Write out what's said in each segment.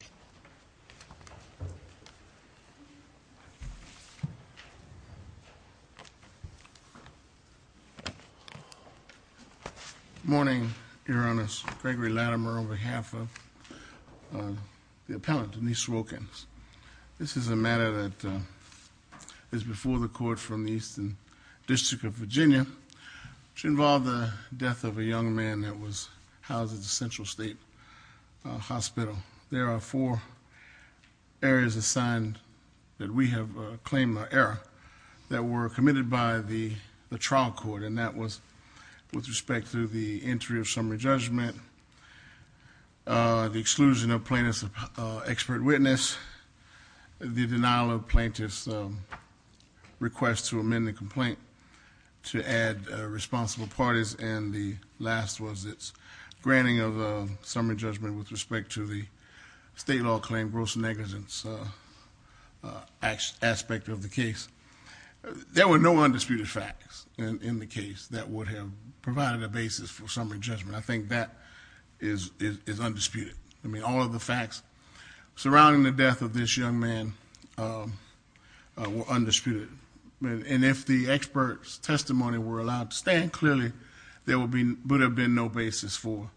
Good morning, Your Honors. Gregory Latimer on behalf of the appellant Denise Wilkins. This is a matter that is before the court from the Eastern District of Virginia, which involved the death of a young man that was housed at the Central State Hospital. There are four areas assigned that we have claimed error that were committed by the trial court and that was with respect to the entry of summary judgment, the exclusion of plaintiff's expert witness, the denial of plaintiff's request to amend the complaint to add responsible parties, and the last was its granting of summary judgment with respect to the state law claim gross negligence aspect of the case. There were no undisputed facts in the case that would have provided a basis for summary judgment. I think that is undisputed. I mean all of the facts surrounding the death of this young man were undisputed. And if the would have been no basis for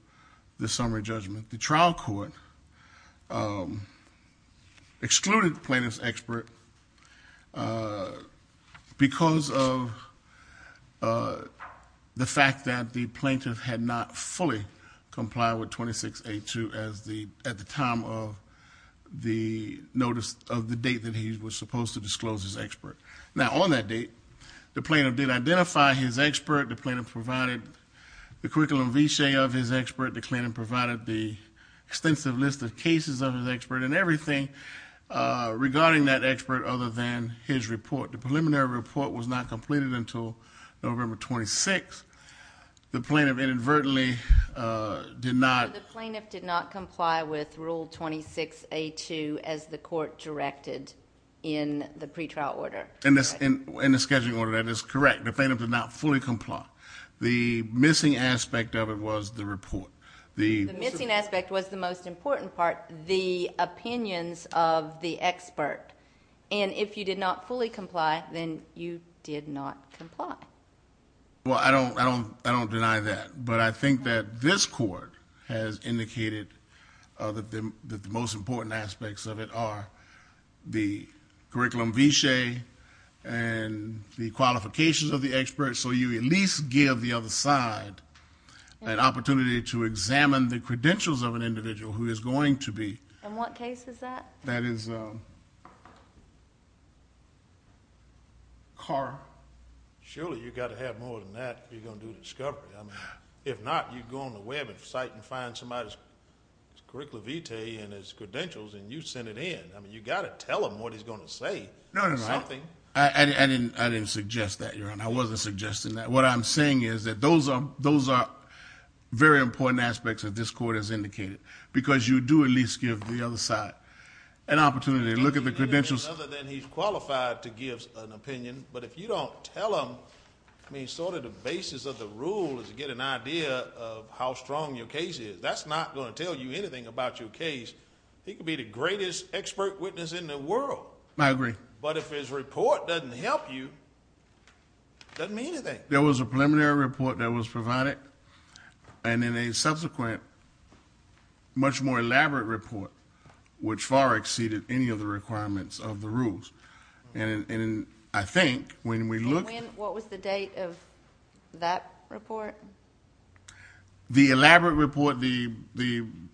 the summary judgment. The trial court excluded the plaintiff's expert because of the fact that the plaintiff had not fully complied with 2682 at the time of the notice of the date that he was supposed to disclose his expert. Now on that date, the plaintiff did identify his expert. The plaintiff provided the curriculum of his expert. The plaintiff provided the extensive list of cases of his expert and everything regarding that expert other than his report. The preliminary report was not completed until November 26th. The plaintiff inadvertently did not comply with rule 2682 as the court directed in the scheduling order. That is correct. The plaintiff did not fully comply. The missing aspect of it was the report. The missing aspect was the most important part, the opinions of the expert. And if you did not fully comply, then you did not comply. Well, I don't deny that. But I think that this court has indicated that the most important aspects of it are the curriculum viché and the qualifications of the expert. So you at least give the other side an opportunity to examine the credentials of an individual who is going to be. And what case is that? That is Carr. Surely you've got to have more than that if you're going to do a discovery. I mean, if not, you go on the web and cite and find somebody's opinion. You've got to tell them what he's going to say. No, no, no. I didn't suggest that, Your Honor. I wasn't suggesting that. What I'm saying is that those are very important aspects that this court has indicated. Because you do at least give the other side an opportunity to look at the credentials... He's qualified to give an opinion, but if you don't tell him, I mean, sort of the basis of the rule is to get an idea of how strong your case is. That's not going to tell you anything about your case. He could be the greatest expert witness in the world. I agree. But if his report doesn't help you, it doesn't mean anything. There was a preliminary report that was provided and then a subsequent much more elaborate report which far exceeded any of the requirements of the rules. And I think when we look... And when? What was the date of that report? The elaborate report, the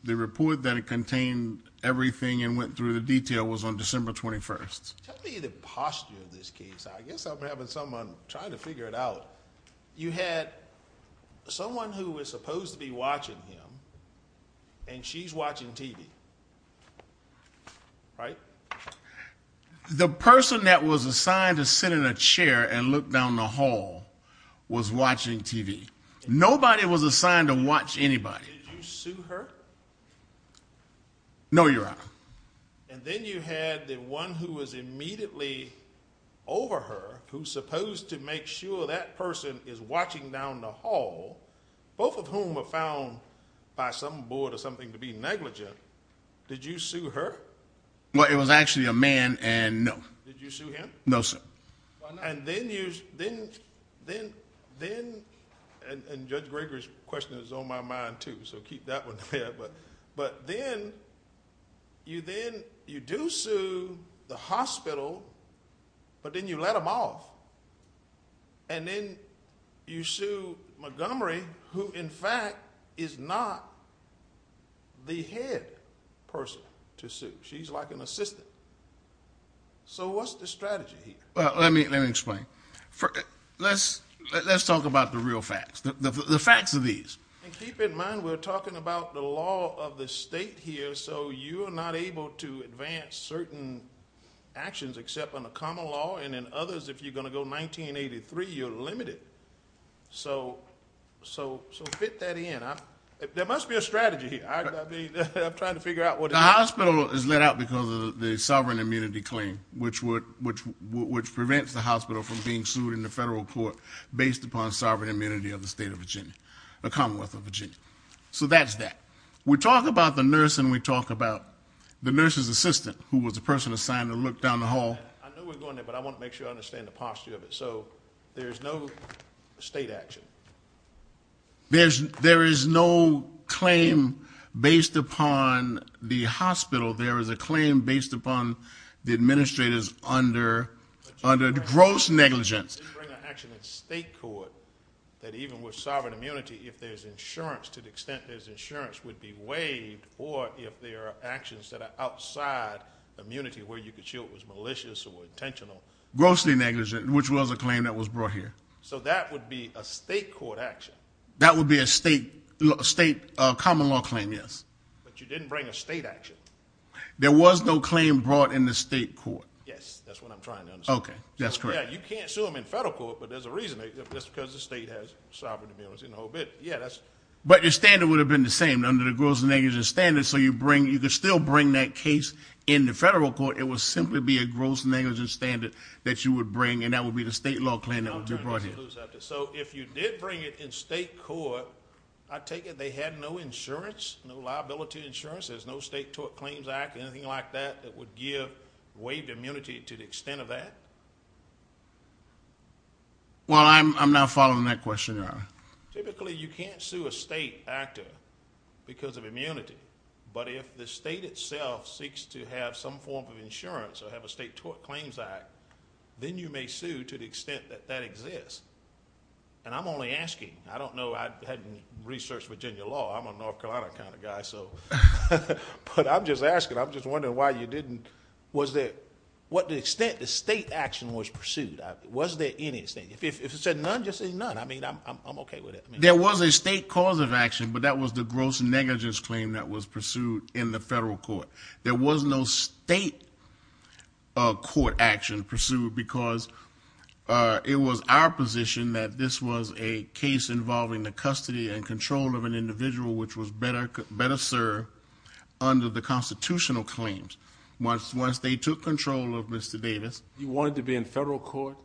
report that contained everything and went through the detail was on December 21st. Tell me the posture of this case. I guess I'm having someone trying to figure it out. You had someone who was supposed to be watching him and she's watching TV, right? The person that was assigned to sit in a chair and look down the hall was watching TV. Nobody was assigned to watch anybody. Did you sue her? No, Your Honor. And then you had the one who was immediately over her who's supposed to make sure that person is watching down the hall, both of whom were found by some board or something to be negligent. Did you sue her? Well, it was actually a man and no. Did you sue him? No, sir. Why not? And then you... and Judge Greger's question is on my mind, too, so keep that one to bed. But then you do sue the hospital, but then you let them off. And then you sue Montgomery who, in fact, is not the head person to sue. She's like an assistant. So what's the strategy here? Well, let me explain. Let's talk about the real facts, the facts of these. And keep in mind, we're talking about the law of the state here, so you are not able to advance certain actions except under common law. And in others, if you're going to go you're limited. So fit that in. There must be a strategy here. I'm trying to figure out what it is. The hospital is let out because of the sovereign immunity claim, which prevents the hospital from being sued in the federal court based upon sovereign immunity of the state of Virginia, the Commonwealth of Virginia. So that's that. We talk about the nurse and we talk about the nurse's assistant, who was the person assigned to look down the hall. I know we're going there, but I want to make sure I understand the posture of it. So there's no state action. There is no claim based upon the hospital. There is a claim based upon the administrators under gross negligence. You can't bring an action in state court that even with sovereign immunity, if there's insurance, to the extent there's insurance, would be waived. Or if there are actions that are outside immunity where you could show it was malicious or intentional. Grossly negligent, which was a claim that was brought here. So that would be a state court action. That would be a state common law claim, yes. But you didn't bring a state action. There was no claim brought in the state court. Yes, that's what I'm trying to understand. Okay, that's correct. You can't sue them in federal court, but there's a reason. That's because the state has sovereign immunity. But your standard would have been the same under the gross negligence standard. So you could still bring that case in the federal court. It would simply be a gross negligence standard that you would bring, and that would be the state law claim that was brought here. So if you did bring it in state court, I take it they had no insurance, no liability insurance, there's no state tort claims act, anything like that, that would give waived immunity to the extent of that? Well, I'm not following that question, Your Honor. Typically, you can't sue a state actor because of immunity. But if the state itself seeks to have some form of insurance or have a state tort claims act, then you may sue to the extent that that exists. And I'm only asking. I don't know. I hadn't researched Virginia law. I'm a North Carolina kind of guy, so... But I'm just asking. I'm just wondering why you didn't... Was there... What the extent the state action was pursued, was there any state... If it said none, just say none. I mean, I'm okay with it. There was a state cause of action, but that was the gross negligence claim that was pursued in the federal court. There was no state court action pursued because it was our position that this was a case involving the custody and control of an individual which was better served under the constitutional claims. Once they took control of Mr. Davis... You wanted to be in federal court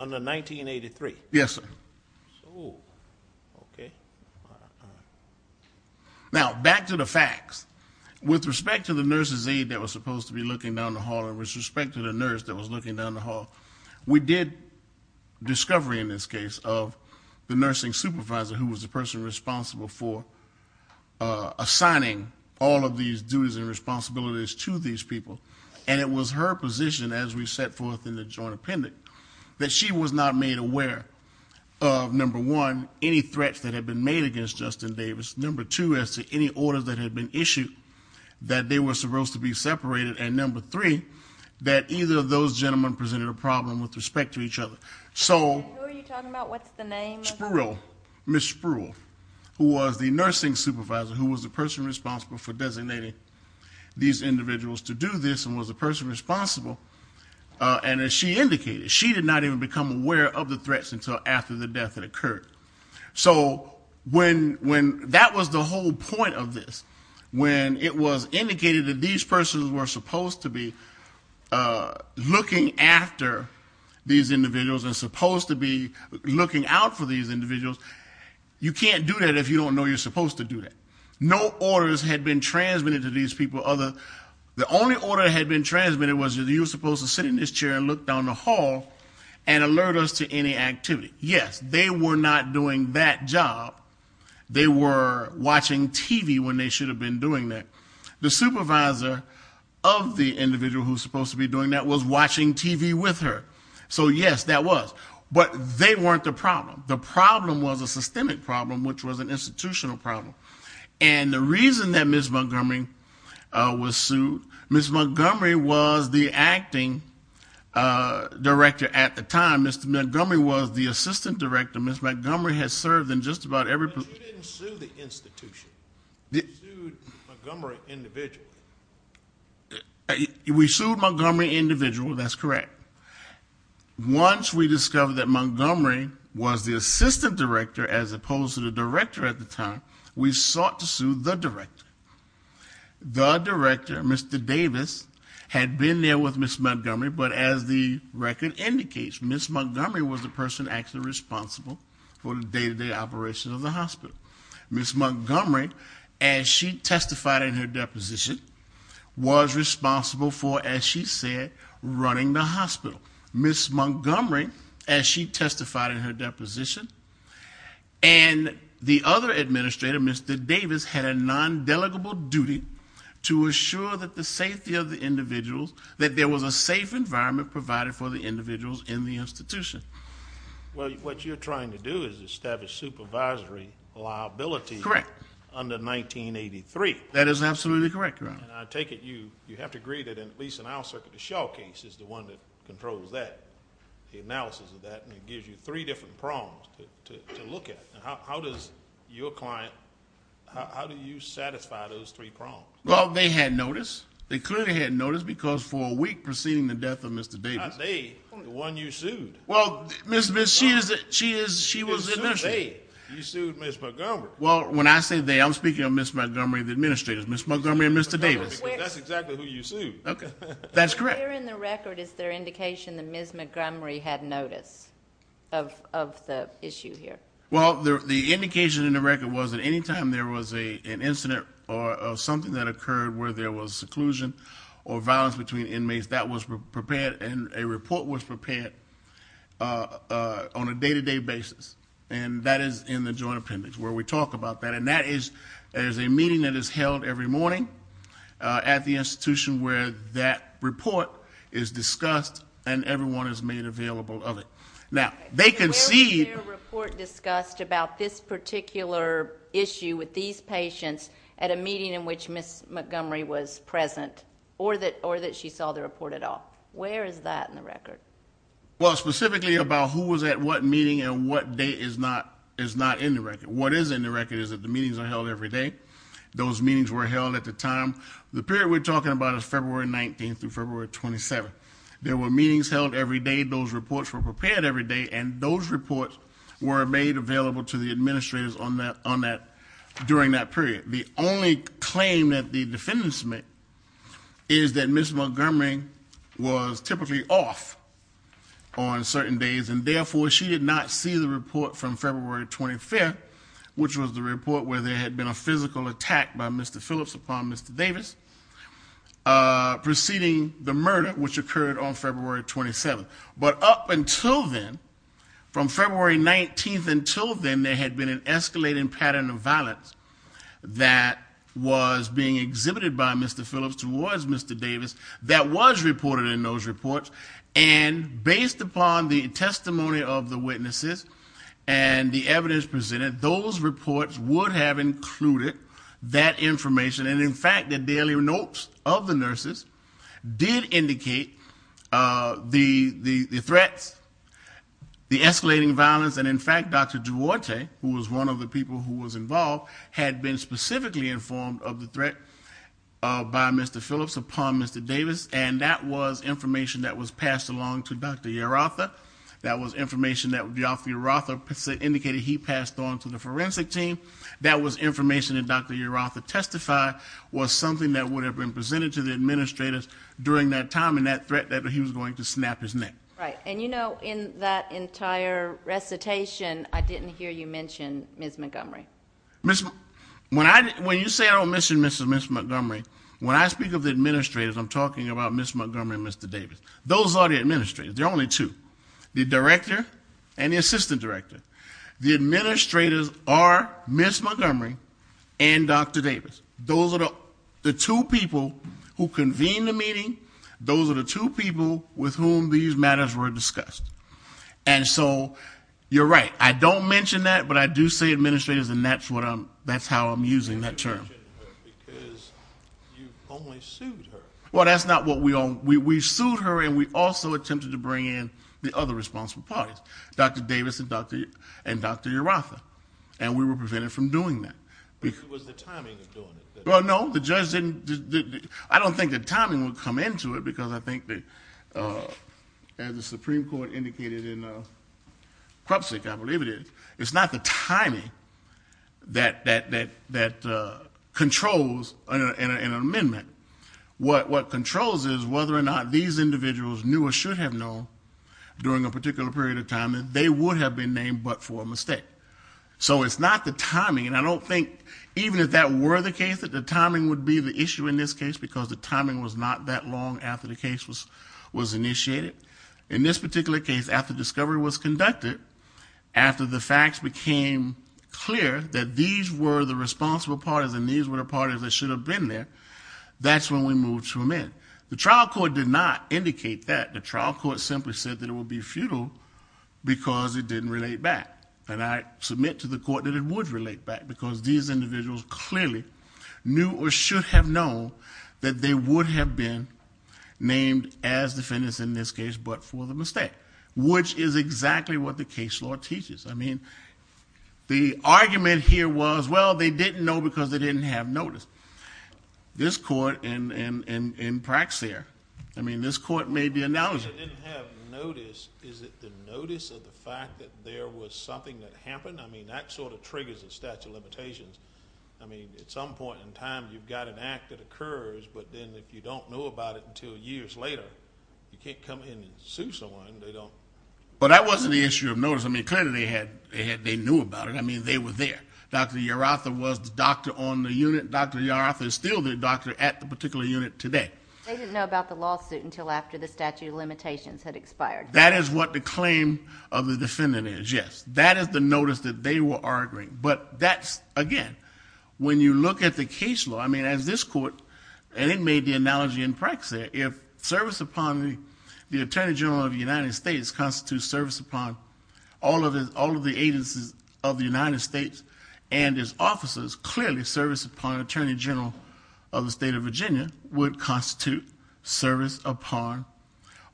under 1983? Yes, sir. Oh, okay. Now, back to the facts. With respect to the nurse's aide that was supposed to be looking down the hall and with respect to the nurse that was looking down the hall, we did discovery in this case of the nursing supervisor who was the person responsible for assigning all of these duties and responsibilities to these people. And it was her position, as we set forth in the joint appendix, that she was not made aware of, number one, any threats that had been made against Justin Davis, number two, as to any orders that had been issued that they were supposed to be separated, and number three, that either of those gentlemen presented a problem with respect to each other. Who are you talking about? What's the name? Spruill. Ms. Spruill, who was the nursing supervisor, who was the person responsible for designating these individuals to do this and was the person responsible. And as she indicated, she did not even become aware of the threats until after the death that occurred. So when that was the whole point of this, when it was indicated that these persons were supposed to be looking after these individuals and supposed to be looking out for these individuals, you can't do that if you don't know you're supposed to do that. No orders had been transmitted to these people. The only order that had been transmitted was that you were supposed to sit in this chair and look down the hall and alert us to any activity. Yes, they were not doing that job. They were watching TV when they should have been doing that. The supervisor of the individual who was supposed to be doing that was watching TV with her. So yes, that was. But they weren't the problem. The problem was a systemic problem, which was an institutional problem. And the reason that Ms. Montgomery was sued, Ms. Montgomery was the acting director at the time. Mr. Montgomery was the assistant director. Ms. Montgomery has served in just about every position. But you didn't sue the institution. You sued Montgomery individually. We sued Montgomery individually. That's correct. Once we discovered that Montgomery was the assistant director as opposed to the director at the time, we sought to sue the director. The director, Mr. Davis, had been there with Ms. Montgomery, but as the record indicates, Ms. Montgomery was the person actually responsible for the day-to-day operations of the hospital. Ms. Montgomery, as she testified in her deposition, was responsible for, as she said, running the hospital. Ms. Montgomery, as she testified in her deposition, and the other administrator, Mr. Davis, had a nondelegable duty to assure that the safety of the individuals, that there was a safe environment provided for the individuals in the institution. Well, what you're trying to do is establish supervisory liability under 1983. That is absolutely correct, Your Honor. I take it you have to agree that, at least in our circuit, the Shaw case is the one that controls that, the analysis of that, and it gives you three different prongs to look at. How does your client, how do you satisfy those three prongs? Well, they had notice. They clearly had notice because for a week preceding the death of Mr. Davis, Not they, the one you sued. Well, she was the administrator. You sued Ms. Montgomery. Well, when I say they, I'm speaking of Ms. Montgomery, the administrator. Ms. Montgomery and Mr. Davis. That's exactly who you sued. That's correct. Where in the record is there indication that Ms. Montgomery had notice of the issue here? Well, the indication in the record was that any time there was an incident or something that occurred where there was seclusion or violence between inmates, that was prepared, and a report was prepared on a day-to-day basis. And that is in the joint appendix where we talk about that. And that is, there's a meeting that is held every morning at the institution where that report is discussed and everyone is made available of it. Now, they concede Where was their report discussed about this particular issue with these patients at a meeting in which Ms. Montgomery was present, or that she saw the report at all? Where is that in the record? Well, specifically about who was at what meeting and what day is not in the record. What is in the record is that the meetings are held every day. Those meetings were held at the time. The period we're talking about is February 19th through February 27th. There were meetings held every day. Those reports were prepared every day. And those reports were made available to the administrators during that period. The only claim that the defendants make is that Ms. Montgomery was typically off on certain days. And therefore, she did not see the report from February 25th, which was the report where there had been a physical attack by Mr. Phillips upon Mr. Davis, preceding the murder which occurred on February 27th. But up until then, from February 19th until then, there had been an escalating pattern of violence that was being exhibited by Mr. Phillips towards Mr. Davis that was reported in those reports. And based upon the testimony of the witnesses and the evidence presented, those reports would have included that information. And in fact, the daily notes of the nurses did indicate the threats, the escalating violence. And in fact, Dr. Duarte, who was one of the people who was involved, had been specifically informed of the threat by Mr. Phillips upon Mr. Davis. And that was information that was passed along to Dr. Yerotha. That was information that Dr. Yerotha indicated he passed on to the forensic team. That was information that Dr. Yerotha testified was something that would have been presented to the administrators during that time, and that threat that he was going to snap his neck. Right. And you know, in that entire recitation, I didn't hear you mention Ms. Montgomery. When you say I don't mention Ms. Montgomery, when I speak of the administrators, I'm talking about Ms. Montgomery and Mr. Davis. Those are the administrators. They're only two. The director and the assistant director. The administrators are Ms. Montgomery and Dr. Davis. Those are the two people who convened the meeting. Those are the two people with whom these matters were discussed. And so, you're right. I don't mention that, but I do say administrators, and that's how I'm using that term. You don't mention her because you only sued her. Well, that's not what we... We sued her, and we also attempted to bring in the other responsible parties. Dr. Davis and Dr. Yerotha. And we were prevented from doing that. But it was the timing of doing it. Well, no. The judge didn't... I don't think the timing would come into it, because I think that, as the Supreme Court indicated in Krupsik, I believe it is, it's not the timing that controls an amendment. What controls is whether or not these individuals knew or should have known during a particular period of time that they would have been named but for a mistake. So it's not the timing, and I don't think, even if that were the case, that the timing would be the issue in this case, because the timing was not that long after the case was initiated. In this particular case, after discovery was conducted, after the facts became clear that these were the responsible parties and these were the parties that should have been there, that's when we moved to amend. The trial court did not indicate that. The trial court simply said that it would be futile, because it didn't relate back. And I submit to the court that it would relate back, because these individuals clearly knew or should have known that they would have been named as defendants in this case, but for the mistake. Which is exactly what the case law teaches. I mean, the argument here was, well, they didn't know because they didn't have notice. This court, in practice here, I mean, this court may be acknowledging... If they didn't have notice, is it the notice of the fact that there was something that happened? I mean, that sort of triggers a statute of limitations. I mean, at some point in time, you've got an act that occurs, but then if you don't know about it until years later, you can't come in and sue someone. But that wasn't the issue of notice. I mean, clearly they knew about it. I mean, they were there. Dr. Yerotha was the doctor on the unit. Dr. Yerotha is still the doctor at the particular unit today. They didn't know about the lawsuit until after the statute of limitations had expired. That is what the claim of the defendant is, yes. That is the notice that they were arguing. But that's, again, when you look at the case law, I mean, as this court... And it made the analogy in practice there. If service upon the Attorney General of the United States constitutes service upon all of the agencies of the United States and its officers, clearly service upon the Attorney General of the state of Virginia would constitute service upon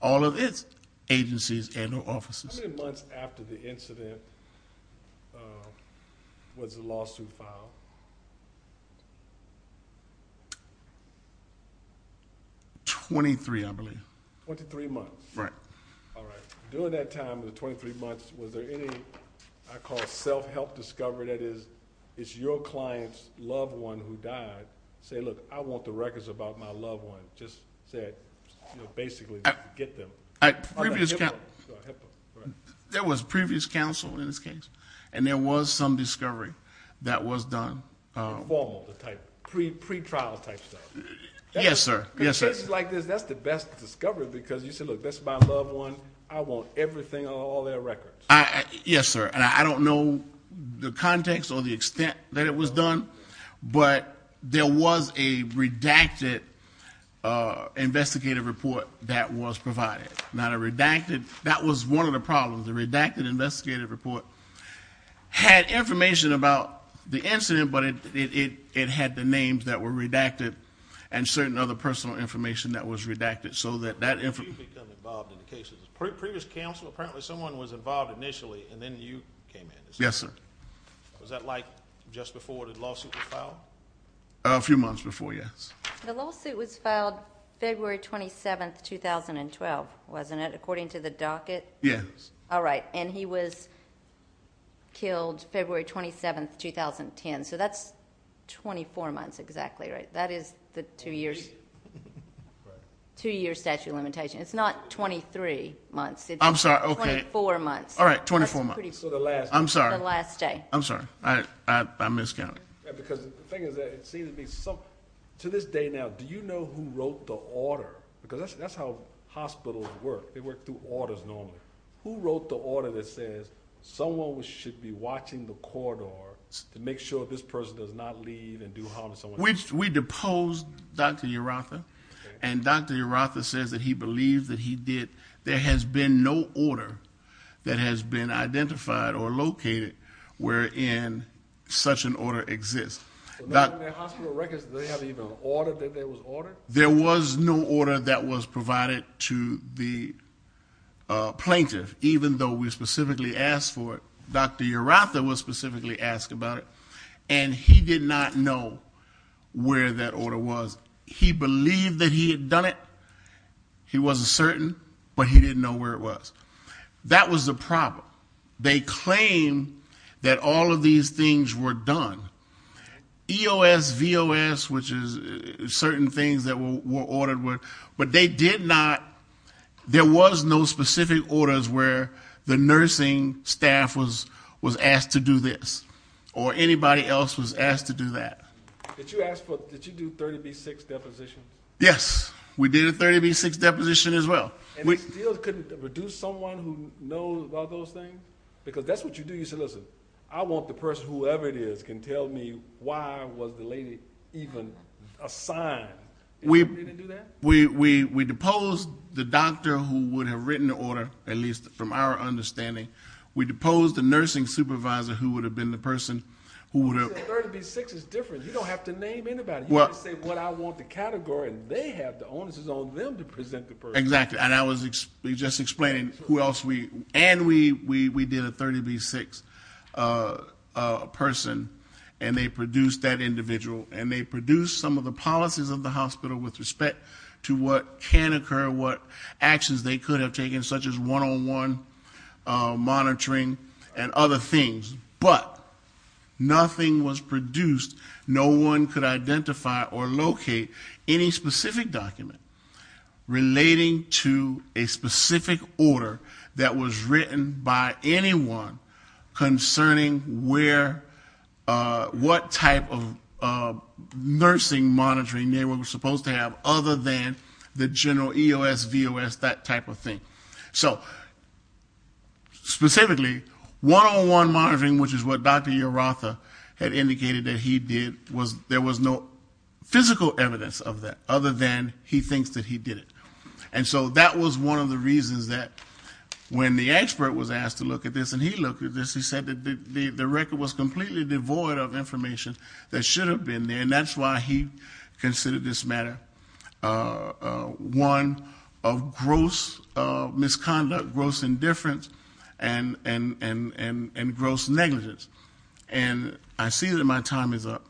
all of its agencies and its officers. How many months after the incident was the lawsuit filed? Twenty-three, I believe. Twenty-three months? Right. All right. During that time, the twenty-three months, was there any, I call it, self-help discovery? That is, it's your client's loved one who died. Say, look, I want the records about my loved one. Just say it. You know, basically get them. And there was some discovery that was done. But I don't know if it was a self-help discovery. Pre-trial type stuff. Yes, sir. In cases like this, that's the best discovery. Because you say, look, that's my loved one. I want everything on all their records. Yes, sir. And I don't know the context or the extent that it was done. But there was a redacted investigative report that was provided. Not a redacted... That was one of the problems. The redacted investigative report had information about the incident. But it had the names that were redacted. And certain other personal information that was redacted. So that... How did you become involved in the cases? Previous counsel, apparently someone was involved initially. And then you came in. Yes, sir. Was that like just before the lawsuit was filed? A few months before, yes. The lawsuit was filed February 27, 2012, wasn't it? According to the docket? Yes. All right. And he was killed February 27, 2010. So that's 24 months exactly, right? That is the two years statute of limitations. It's not 23 months. I'm sorry. Okay. It's 24 months. All right. 24 months. That's pretty... So the last... I'm sorry. The last day. I'm sorry. I miscounted. Because the thing is that it seems to be... To this day now, do you know who wrote the order? Because that's how hospitals work. They work through orders normally. Who wrote the order that says someone should be watching the corridor to make sure this person does not leave and do harm to someone else? We deposed Dr. Urratha. And Dr. Urratha says that he believes that he did... There has been no order that has been identified or located wherein such an order exists. In their hospital records, did they have even an order that there was order? There was no order that was provided to the plaintiff, even though we specifically asked for it. Dr. Urratha was specifically asked about it, and he did not know where that order was. He believed that he had done it. He wasn't certain, but he didn't know where it was. That was the problem. They claim that all of these things were done. EOS, VOS, which is certain things that were ordered. But they did not... There was no specific orders where the nursing staff was asked to do this, or anybody else was asked to do that. Did you do 30B6 deposition? Yes. We did a 30B6 deposition as well. And you still couldn't reduce someone who knows about those things? Because that's what you do. You say, listen, I want the person, whoever it is, can tell me why was the lady even assigned. We didn't do that? We deposed the doctor who would have written the order, at least from our understanding. We deposed the nursing supervisor who would have been the person who would have... 30B6 is different. You don't have to name anybody. You just say what I want the category, and they have the onus on them to present the person. Exactly. And I was just explaining who else we... And we did a 30B6 person, and they produced that individual. And they produced some of the policies of the hospital with respect to what can occur, what actions they could have taken, such as one-on-one monitoring and other things. But nothing was produced. No one could identify or locate any specific document relating to a specific order that was written by anyone concerning what type of nursing monitoring they were supposed to have other than the general EOS, VOS, that type of thing. So, specifically, one-on-one monitoring, which is what Dr. Yerotha had indicated that he did, there was no physical evidence of that other than he thinks that he did it. And so that was one of the reasons that when the expert was asked to look at this, and he looked at this, he said that the record was completely devoid of information that should have been there, and that's why he considered this matter one of gross misconduct, gross indifference, and gross negligence. And I see that my time is up.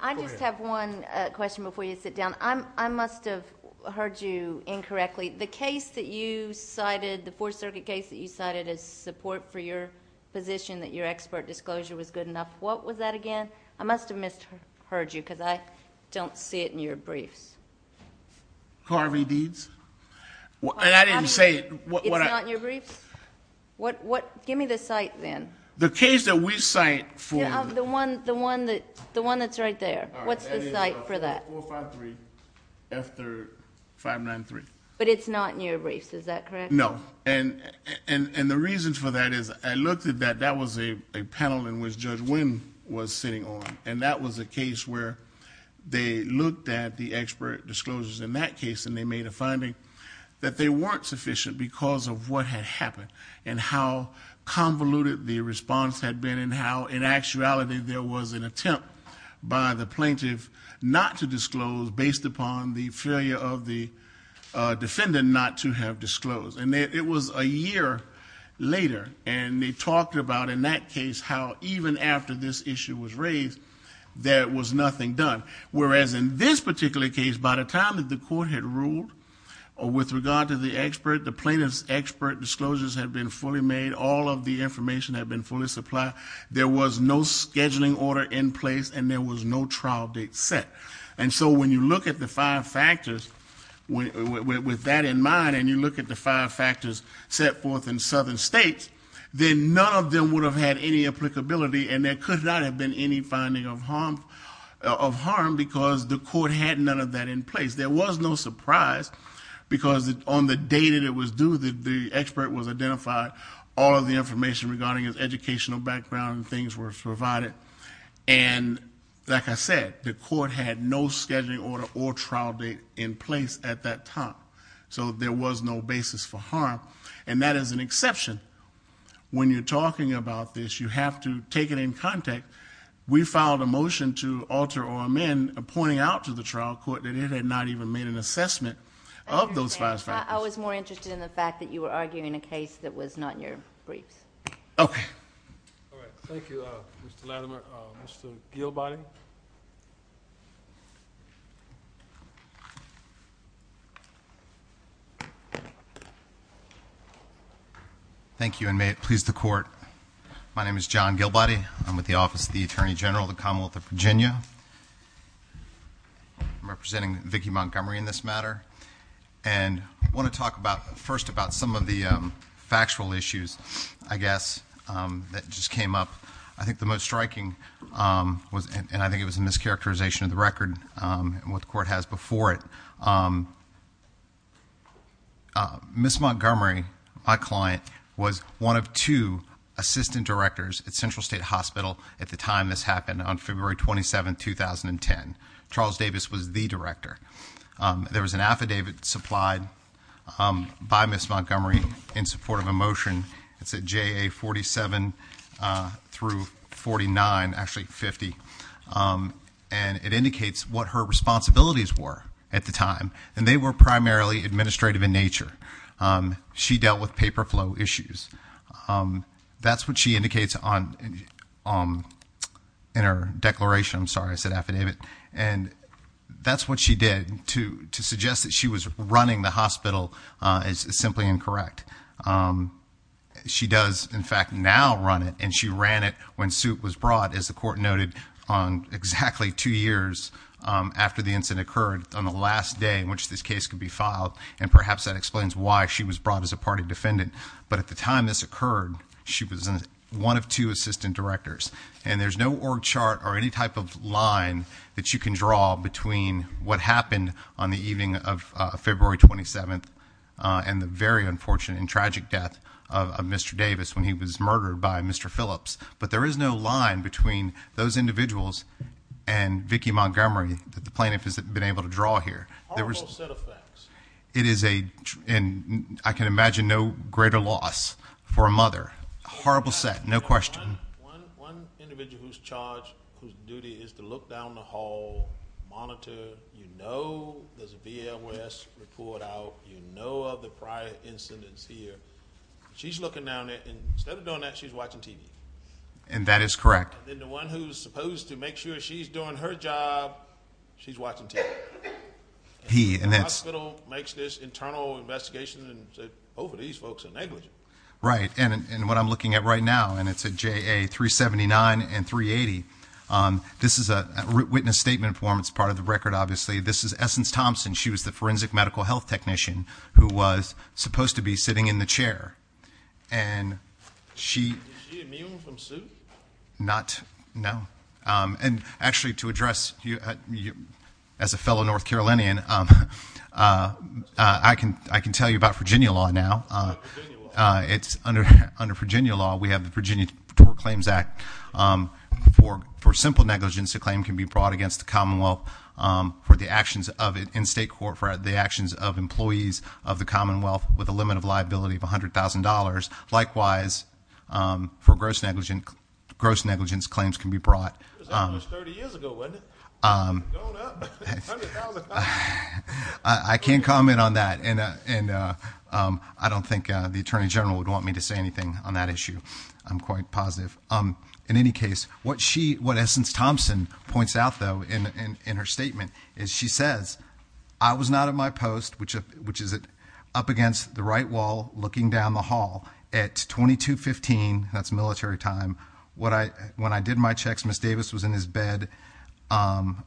I just have one question before you sit down. I must have heard you incorrectly. The case that you cited, the Fourth Circuit case that you cited as support for your position that your expert disclosure was good enough, what was that again? I must have misheard you because I don't see it in your briefs. Carvey Deeds? And I didn't say... It's not in your briefs? Give me the cite then. The case that we cite for... The one that's right there. What's the cite for that? 453 after 593. But it's not in your briefs, is that correct? No. And the reason for that is I looked at that. That was a panel in which Judge Wynn was sitting on. And that was a case where they looked at the expert disclosures in that case and they made a finding that they weren't sufficient because of what had happened and how convoluted the response had been and how in actuality there was an attempt by the plaintiff not to disclose based upon the failure of the defendant not to have disclosed. And it was a year later. And they talked about in that case how even after this issue was raised there was nothing done. Whereas in this particular case, by the time that the court had ruled with regard to the expert, the plaintiff's expert disclosures had been fully made, all of the information had been fully supplied, there was no scheduling order in place and there was no trial date set. And so when you look at the five factors with that in mind and you look at the five factors set forth in southern states, then none of them would have had any applicability and there could not have been any finding of harm because the court had none of that in place. There was no surprise because on the day that it was due, the expert was identified, all of the information regarding his educational background and things were provided. And like I said, the court had no scheduling order or trial date in place at that time. So there was no basis for harm. And that is an exception. When you're talking about this, you have to take it in contact. We filed a motion to alter or amend, pointing out to the trial court that it had not even made an assessment of those five factors. I was more interested in the fact that you were arguing a case that was not your briefs. Okay. Thank you, Mr. Latimer. Mr. Gilbody? Thank you and may it please the court. My name is John Gilbody. I'm with the Office of the Attorney General of the Commonwealth of Virginia. I'm representing Vicki Montgomery in this matter. And I want to talk first about some of the factual issues, I guess, that just came up. I think the most striking was, and I think it was a mischaracterization of the record and what the court has before it, Ms. Montgomery, my client, was one of two assistant directors at Central State Hospital at the time this happened, on February 27, 2010. Charles Davis was the director. There was an affidavit supplied by Ms. Montgomery in support of a motion. It's at JA 47 through 49, actually 50, and it indicates what her responsibilities were at the time. And they were primarily administrative in nature. She dealt with paper flow issues. That's what she indicates in her declaration. I'm sorry, I said affidavit. And that's what she did to suggest that she was running the hospital is simply incorrect. She does, in fact, now run it, and she ran it when suit was brought, as the court noted, exactly two years after the incident occurred, on the last day in which this case could be filed. And perhaps that explains why she was brought as a party defendant. But at the time this occurred, she was one of two assistant directors. And there's no org chart or any type of line that you can draw between what happened on the evening of February 27 and the very unfortunate and tragic death of Mr. Davis when he was murdered by Mr. Phillips. But there is no line between those individuals and Vicki Montgomery that the plaintiff has been able to draw here. Horrible set of facts. And I can imagine no greater loss for a mother. Horrible set, no question. One individual who's charged, whose duty is to look down the hall, monitor, you know there's a BLS report out, you know of the prior incidents here. She's looking down there, and instead of doing that, she's watching TV. And that is correct. And the one who's supposed to make sure she's doing her job, she's watching TV. And the hospital makes this internal investigation and says, both of these folks are negligent. Right, and what I'm looking at right now, and it's a JA 379 and 380, this is a witness statement form, it's part of the record obviously, this is Essence Thompson, she was the forensic medical health technician, who was supposed to be sitting in the chair. And she... Is she immune from suit? Not, no. And actually to address, as a fellow North Carolinian, I can tell you about Virginia law now. Under Virginia law, we have the Virginia Tort Claims Act. For simple negligence, a claim can be brought against the Commonwealth for the actions of, in state court, for the actions of employees of the Commonwealth with a limit of liability of $100,000. Likewise, for gross negligence, gross negligence claims can be brought. That was 30 years ago, wasn't it? I can't comment on that. And I don't think the Attorney General would want me to say anything on that issue. I'm quite positive. In any case, what Essence Thompson points out though, in her statement, is she says, I was not in my post, which is up against the right wall, looking down the hall, at 2215, that's military time, when I did my checks, Ms. Davis was in his bed, I'm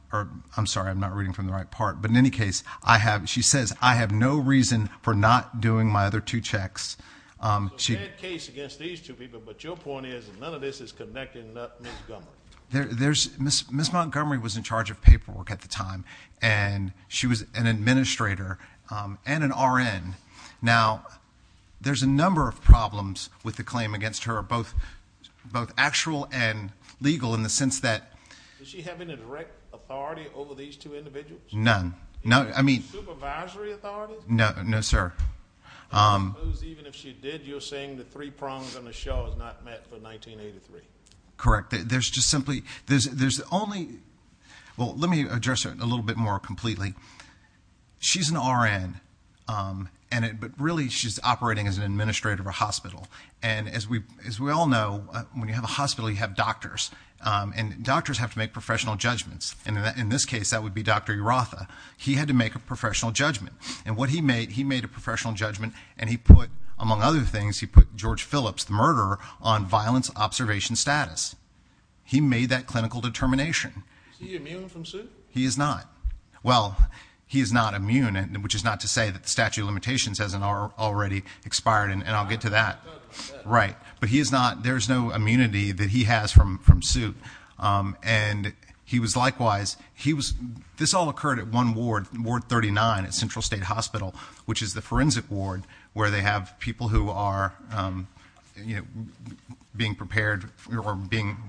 sorry, I'm not reading from the right part, but in any case, she says, I have no reason for not doing my other two checks. There's a bad case against these two people, but your point is, none of this is connecting Ms. Montgomery. Ms. Montgomery was in charge of paperwork at the time, and she was an administrator, and an RN. Now, there's a number of problems with the claim against her, both actual and legal, in the sense that... Did she have any direct authority over these two individuals? None. Supervisory authority? No, sir. Even if she did, you're saying the three prongs on the show is not met for 1983? Correct. There's just simply... Well, let me address her a little bit more completely. She's an RN, but really, she's operating as an administrator of a hospital, and as we all know, when you have a hospital, you have doctors, and doctors have to make professional judgments. In this case, that would be Dr. Urratha. He had to make a professional judgment, and what he made, he made a professional judgment, and he put, among other things, he put George Phillips, the murderer, on violence observation status. He made that clinical determination. Is he immune from suit? He is not. Well, he is not immune, which is not to say that the statute of limitations hasn't already expired, and I'll get to that. But there's no immunity that he has from suit. And he was likewise... This all occurred at one ward, Ward 39 at Central State Hospital, which is the forensic ward where they have people who are being prepared or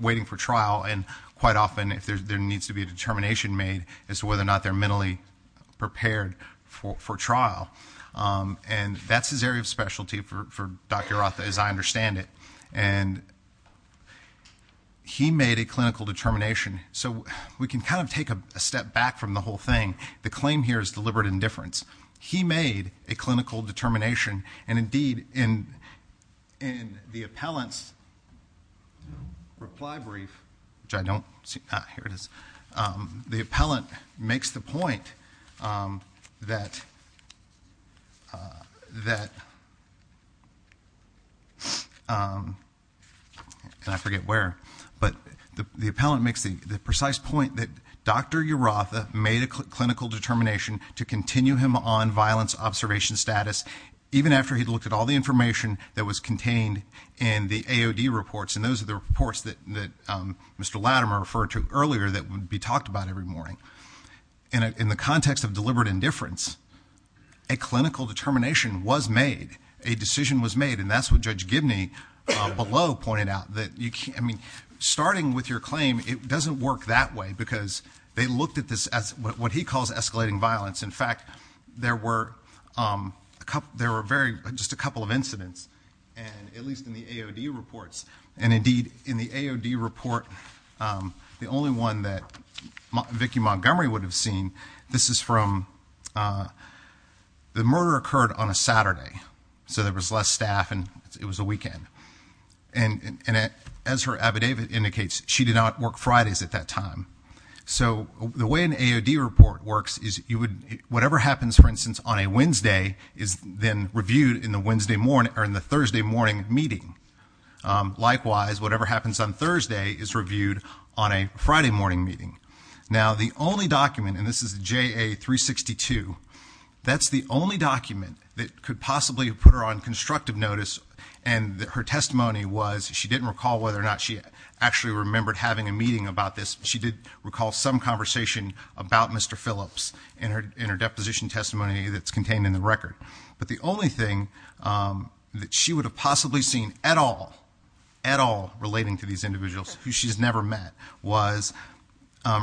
waiting for trial, and quite often there needs to be a determination made as to whether or not they're mentally prepared for trial. And that's his area of specialty for Dr. Urratha, as I understand it. And he made a clinical determination. So we can kind of take a step back from the whole thing. The claim here is deliberate indifference. He made a clinical determination, and indeed, in the appellant's reply brief, which I don't see... Ah, here it is. The appellant makes the point that... And I forget where. But the appellant makes the precise point that Dr. Urratha made a clinical determination to continue him on violence observation status even after he'd looked at all the information that was contained in the AOD reports, and those are the reports that Mr. Latimer referred to earlier that would be talked about every morning. In the context of deliberate indifference, a clinical determination was made, a decision was made, and that's what Judge Gibney below pointed out. I mean, starting with your claim, it doesn't work that way because they looked at this as what he calls escalating violence. In fact, there were... There were just a couple of incidents, at least in the AOD reports, and indeed, in the AOD report, the only one that Vicki Montgomery would have seen, this is from... The murder occurred on a Saturday, so there was less staff and it was a weekend. And as her affidavit indicates, she did not work Fridays at that time. So the way an AOD report works is you would... Whatever happens, for instance, on a Wednesday is then reviewed in the Thursday morning meeting. Likewise, whatever happens on Thursday is reviewed on a Friday morning meeting. Now, the only document, and this is JA-362, that's the only document that could possibly put her on constructive notice, and her testimony was she didn't recall whether or not she actually remembered having a meeting about this. She did recall some conversation about Mr. Phillips in her deposition testimony that's contained in the record. But the only thing that she would have possibly seen at all, at all, relating to these individuals who she's never met was,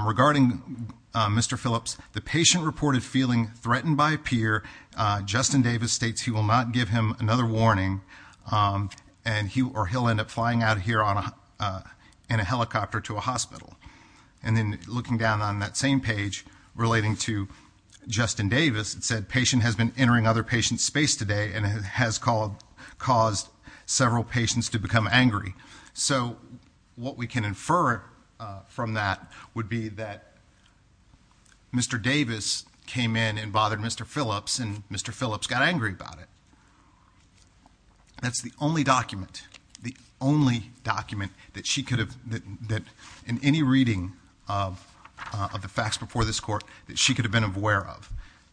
regarding Mr. Phillips, the patient reported feeling threatened by a peer. Justin Davis states he will not give him another warning in a helicopter to a hospital. And then looking down on that same page relating to Justin Davis, it said, patient has been entering other patients' space today and has caused several patients to become angry. So what we can infer from that would be that Mr. Davis came in and bothered Mr. Phillips and Mr. Phillips got angry about it. That's the only document, the only document that she could have, in any reading of the facts before this court, that she could have been aware of.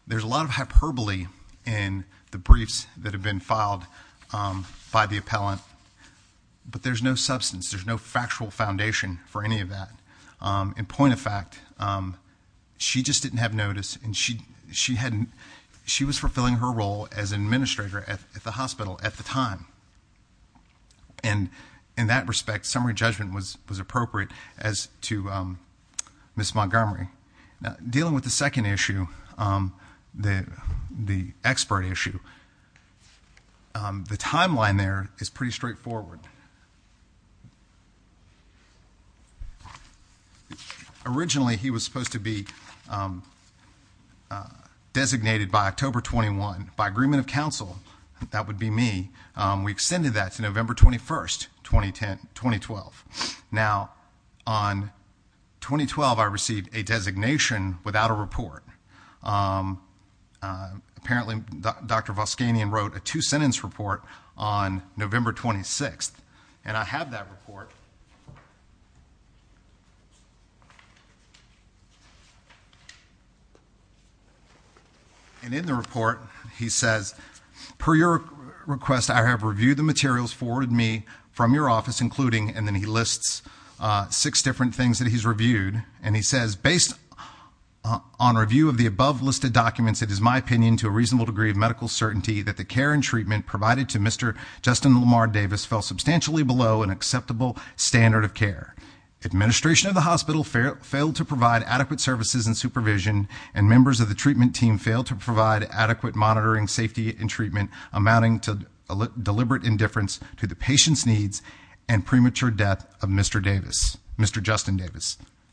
There's a lot of hyperbole in the briefs that have been filed by the appellant, but there's no substance, there's no factual foundation for any of that. In point of fact, she just didn't have notice and she was fulfilling her role as an administrator at the hospital at the time. And in that respect, summary judgment was appropriate as to Ms. Montgomery. Dealing with the second issue, the expert issue, the timeline there is pretty straightforward. Originally he was supposed to be designated by October 21 by agreement of counsel, that would be me, we extended that to November 21, 2012. Now, on 2012 I received a designation without a report. Apparently Dr. Voskanian wrote a two-sentence report on November 26, and I have that report. And in the report he says, per your request I have reviewed the materials forwarded to me from your office, including, and then he lists six different things that he's reviewed, and he says,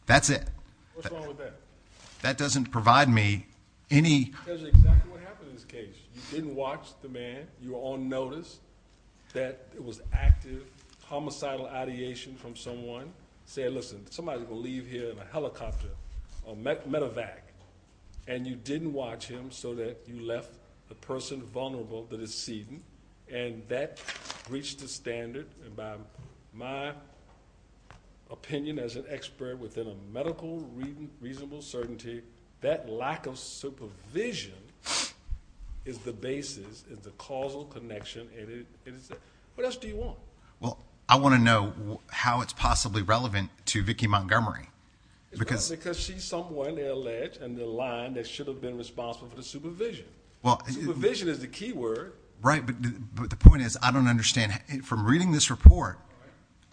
That's it. What's wrong with that? That doesn't provide me any... That's exactly what happened in this case. You didn't watch the man. You were on notice that it was active homicidal ideation from someone. Say, listen, somebody's going to leave here in a helicopter, a medevac, and you didn't watch him so that you left the person vulnerable that is seated, and that breached the standard, and by my opinion as an expert within a medical reasonable certainty, that lack of supervision is the basis, is the causal connection, and it is... What else do you want? Well, I want to know how it's possibly relevant to Vicki Montgomery. It's not because she's someone that led in the line that should have been responsible for the supervision. Supervision is the key word. Right, but the point is, I don't understand. From reading this report,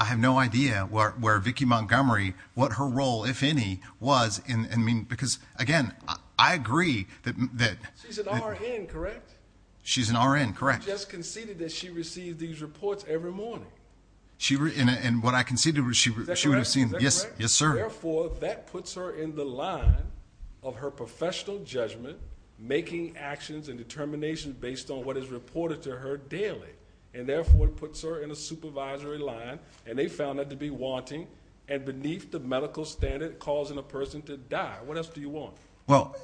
I have no idea where Vicki Montgomery, what her role, if any, was in... Because, again, I agree that... She's an RN, correct? She's an RN, correct. I just conceded that she received these reports every morning. And what I conceded was she would have seen... Is that correct? Yes, sir. Therefore, that puts her in the line of her professional judgment, making actions and determinations based on what is reported to her daily, and therefore it puts her in a supervisory line, and they found that to be wanting, and beneath the medical standard, causing a person to die. What else do you want? Well,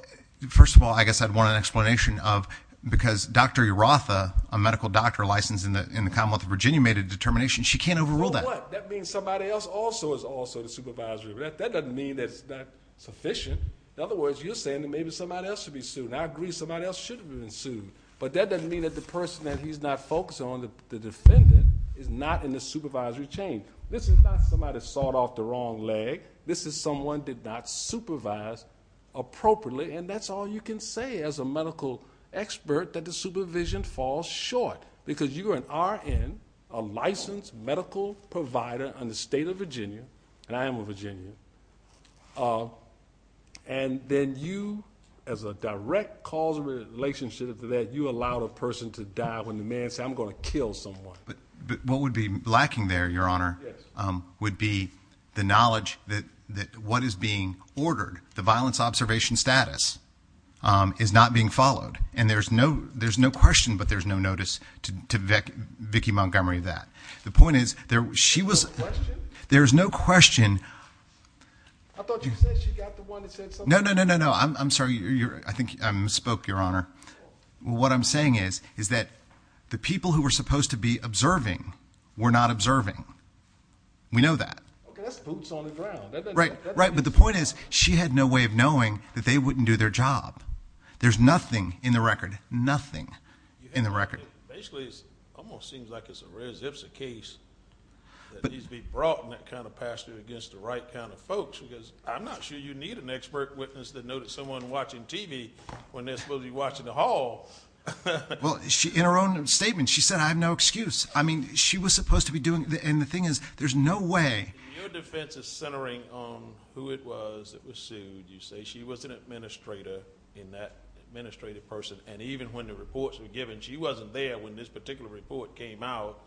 first of all, I guess I'd want an explanation of... Because Dr. Urratha, a medical doctor licensed in the Commonwealth of Virginia, made a determination. She can't overrule that. That means somebody else also is also the supervisory. That doesn't mean that it's not sufficient. In other words, you're saying that maybe somebody else should be sued. And I agree, somebody else should have been sued. But that doesn't mean that the person that he's not focusing on, the defendant, is not in the supervisory chain. This is not somebody that sawed off the wrong leg. This is someone that did not supervise appropriately, and that's all you can say as a medical expert, that the supervision falls short. Because you are an RN, a licensed medical provider in the state of Virginia, and I am a Virginian, and then you, as a direct cause of relationship to that, you allowed a person to die when the man said, I'm going to kill someone. But what would be lacking there, Your Honor, would be the knowledge that what is being ordered, the violence observation status, is not being followed. And there's no question, but there's no notice to Vicki Montgomery of that. The point is, there's no question. I thought you said she got the one that said something. No, no, no. I'm sorry. I think I misspoke, Your Honor. What I'm saying is that the people who were supposed to be observing were not observing. We know that. Okay, that's boots on the ground. Right, but the point is, she had no way of knowing that they wouldn't do their job. There's nothing in the record. Nothing in the record. Basically, it almost seems like it's a res ipsa case that needs to be brought in that kind of passage against the right kind of folks, because I'm not sure you need an expert witness that noticed someone watching TV when they're supposed to be watching the hall. Well, in her own statement, she said, I have no excuse. I mean, she was supposed to be doing... And the thing is, there's no way... Your defense is centering on who it was that was sued. You say she was an administrator in that administrative person. And even when the reports were given, she wasn't there when this particular report came out.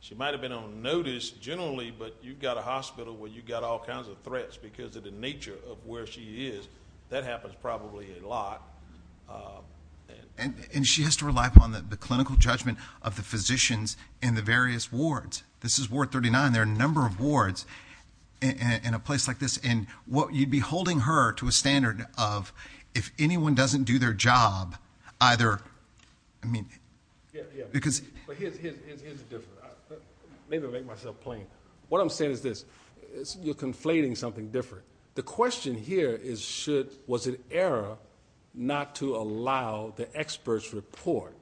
She might have been on notice generally, but you've got a hospital where you've got all kinds of threats because of the nature of where she is. That happens probably a lot. And she has to rely upon the clinical judgment of the physicians in the various wards. This is Ward 39. There are a number of wards in a place like this. And you'd be holding her to a standard of, if anyone doesn't do their job, either... But here's the difference. Maybe I'll make myself plain. What I'm saying is this. You're conflating something different. The question here is, was it error not to allow the expert's report?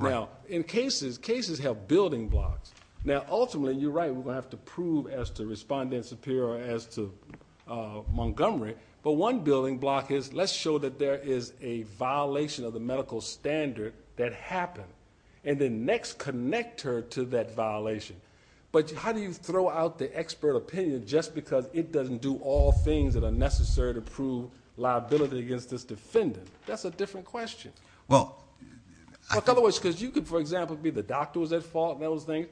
Now, in cases... Cases have building blocks. Now, ultimately, you're right. We're going to have to prove as to Respondent Superior or as to Montgomery. But one building block is, let's show that there is a violation of the medical standard that happened. And then next, connect her to that violation. But how do you throw out the expert opinion just because it doesn't do all things that are necessary to prove liability against this defendant? That's a different question. Because you could, for example, be the doctors at fault and those things.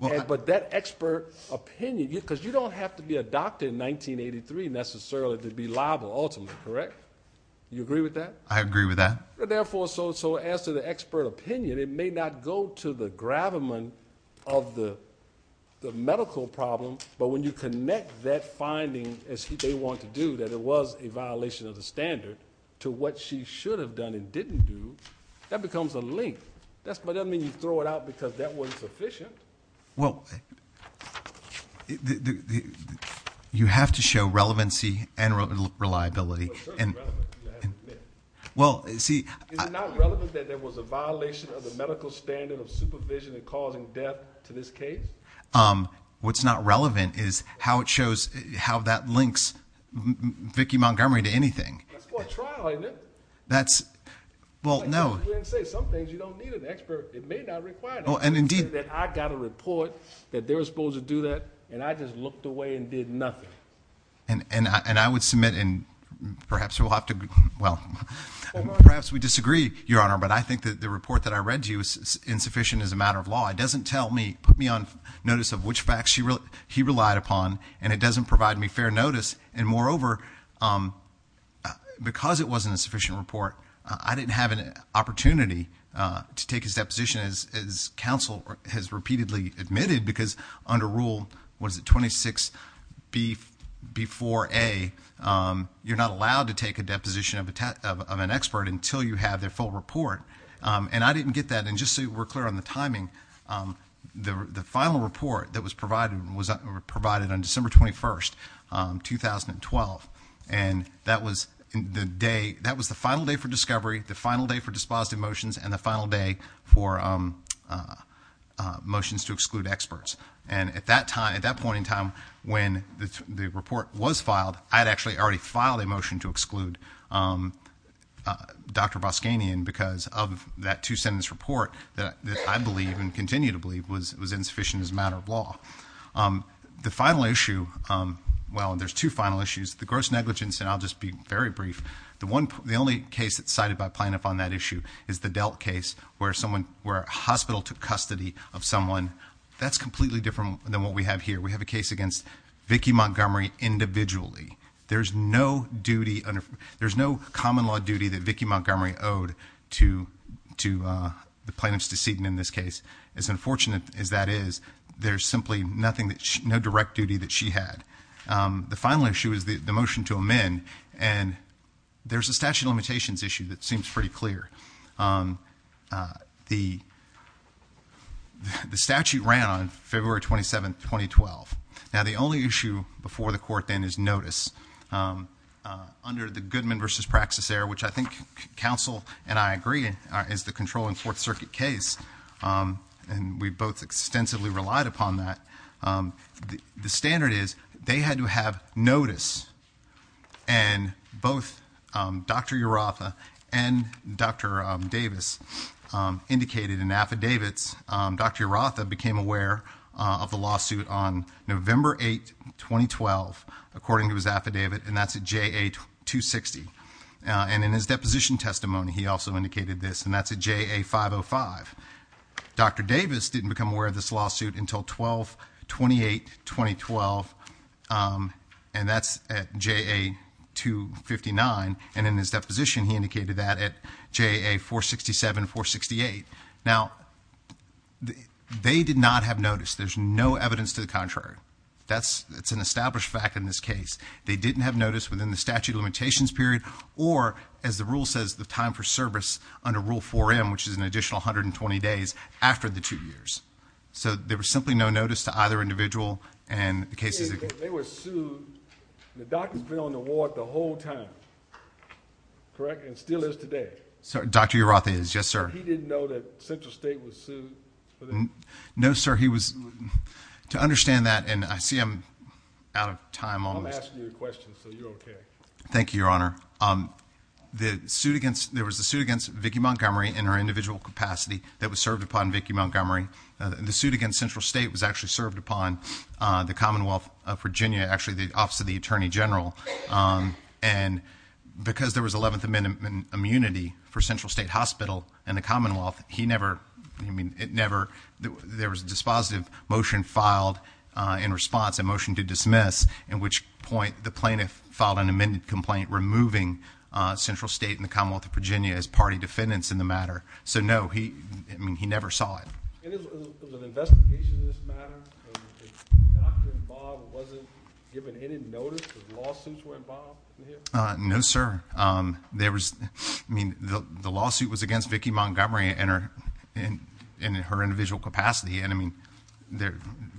But that expert opinion... Because you don't have to be a doctor in 1983 necessarily to be liable, ultimately. Correct? Do you agree with that? Therefore, so as to the expert opinion, it may not go to the gravamen of the medical problem. But when you connect that finding, as they want to do, that it was a violation of the standard to what she should have done and didn't do, that becomes a link. But that doesn't mean you throw it out because that wasn't sufficient. Well, you have to show relevancy and reliability. It's not relevant that there was a violation of the medical standard of supervision and causing death to this case? What's not relevant is how it shows... how that links Vicki Montgomery to anything. That's for a trial, isn't it? Well, no. Some things you don't need an expert. It may not require that. I got a report that they were supposed to do that and I just looked away and did nothing. And I would submit, and perhaps we'll have to... well, perhaps we disagree, Your Honor, but I think that the report that I read to you is insufficient as a matter of law. It doesn't tell me... put me on notice of which facts he relied upon and it doesn't provide me fair notice. And moreover, because it wasn't a sufficient report, I didn't have an opportunity to take his deposition as counsel has repeatedly admitted because under rule... what is it? Under rule 26B4A, you're not allowed to take a deposition of an expert until you have their full report. And I didn't get that. And just so we're clear on the timing, the final report that was provided was provided on December 21st, 2012. And that was the day... that was the final day for discovery, the final day for dispositive motions, and the final day for motions to exclude experts. And at that time... at that point in time, when the report was filed, I had actually already filed a motion to exclude Dr. Boskanyan because of that two-sentence report that I believe and continue to believe was insufficient as a matter of law. The final issue... well, there's two final issues. The gross negligence... and I'll just be very brief. The only case that's cited by plaintiff on that issue is the Delt case where someone... where a hospital took custody of someone. That's completely different than what we have here. We have a case against Vicki Montgomery individually. There's no duty... there's no common law duty that Vicki Montgomery owed to... to the plaintiff's decedent in this case. As unfortunate as that is, there's simply nothing... no direct duty that she had. The final issue is the motion to amend. And, there's a statute of limitations issue that seems pretty clear. The statute ran on February 27, 2012. Now, the only issue before the court then is notice. Under the Goodman v. Praxis error, which I think counsel and I agree is the controlling Fourth Circuit case, and we both extensively relied upon that, the standard is they had to have notice and both Dr. Urratha and Dr. Davis indicated in affidavits. Dr. Urratha became aware of the lawsuit on November 8, 2012 according to his affidavit and that's at JA-260. And, in his deposition testimony he also indicated this and that's at JA-505. Dr. Davis didn't become aware of this lawsuit until 12-28-2012 and that's at JA-259 and in his deposition he indicated that at JA-467-468. Now, they did not have notice. There's no evidence to the contrary. That's an established fact in this case. They didn't have notice within the statute of limitations period or, as the rule says, the time for service under Rule 4M which is an additional 120 days after the two years. So, there was simply no notice to either individual and the cases... They were sued. The doctor's been on the ward the whole time. Correct? And still is today. Dr. Urratha is. Yes, sir. He didn't know that Central State was sued? No, sir. He was... To understand that, and I see I'm out of time almost... I'm asking you a question, so you're okay. Thank you, Your Honor. There was a suit against Vicki Montgomery in her individual capacity that was served upon Vicki Montgomery. The suit against Central State was actually served upon the Commonwealth of Virginia, actually the Office of the Attorney General. And because there was 11th Amendment immunity for Central State Hospital and the Commonwealth, there was a dispositive motion filed in response, a motion to dismiss in which point the plaintiff filed an amended complaint removing Central State and the Commonwealth of Virginia as party defendants in the matter. So, no, he never saw it. Was there an investigation in this matter? The doctor involved wasn't given any notice? No, sir. The lawsuit was against Vicki Montgomery in her individual capacity. And, I mean,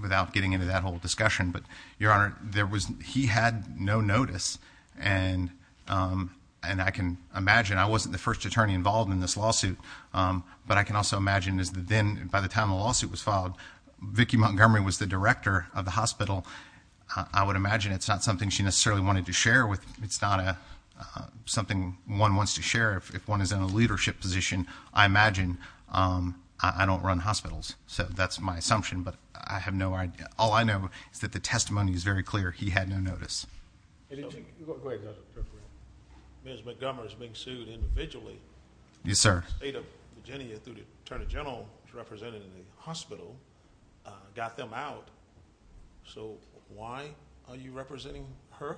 without getting into that whole discussion, but, Your Honor, he had no notice. And I can imagine... I wasn't the first attorney involved in this lawsuit, but I can also imagine that by the time the lawsuit was filed, Vicki Montgomery was the director of the hospital. I would imagine it's not something she necessarily wanted to share with...it's not something one wants to share if one is in a leadership position. I imagine...I don't run hospitals, so that's my assumption, but I have no idea. All I know is that the testimony is very clear. He had no notice. Ms. Montgomery is being sued individually. Yes, sir. The State of Virginia, through the Attorney General, represented in the hospital, got them out. So why are you representing her?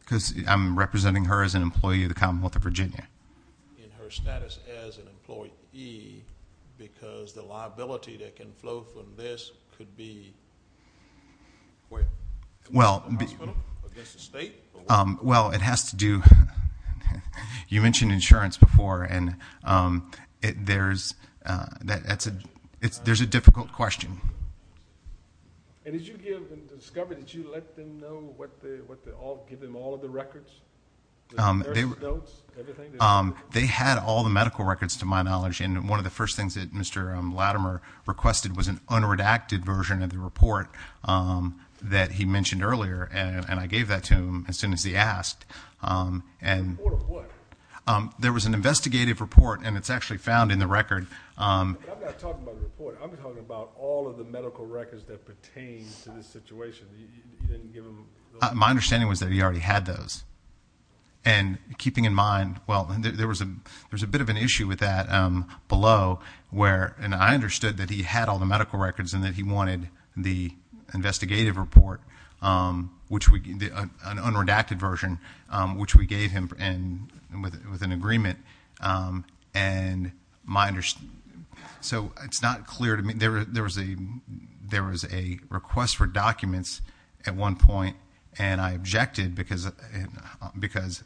Because I'm representing her as an employee of the Commonwealth of Virginia. In her status as an employee because the liability that can flow from this could be... Well... Well, it has to do... You mentioned insurance before, and there's a difficult question. And did you give... Did you let them know what they all... Give them all of the records? They had all the medical records, to my knowledge, and one of the first things that Mr. Latimer requested was an unredacted version of the report that he mentioned earlier, and I gave that to him as soon as he asked. The report of what? There was an investigative report, and it's actually found in the record. I'm not talking about the report. I'm talking about all of the medical records that pertain to this situation. You didn't give them... My understanding was that he already had those. And keeping in mind... Well, there was a bit of an issue with that below where I understood that he had all the medical records and that he wanted the investigative report, an unredacted version, which we gave him with an agreement. And my understanding... So it's not clear to me. There was a request for documents at one point, and I objected because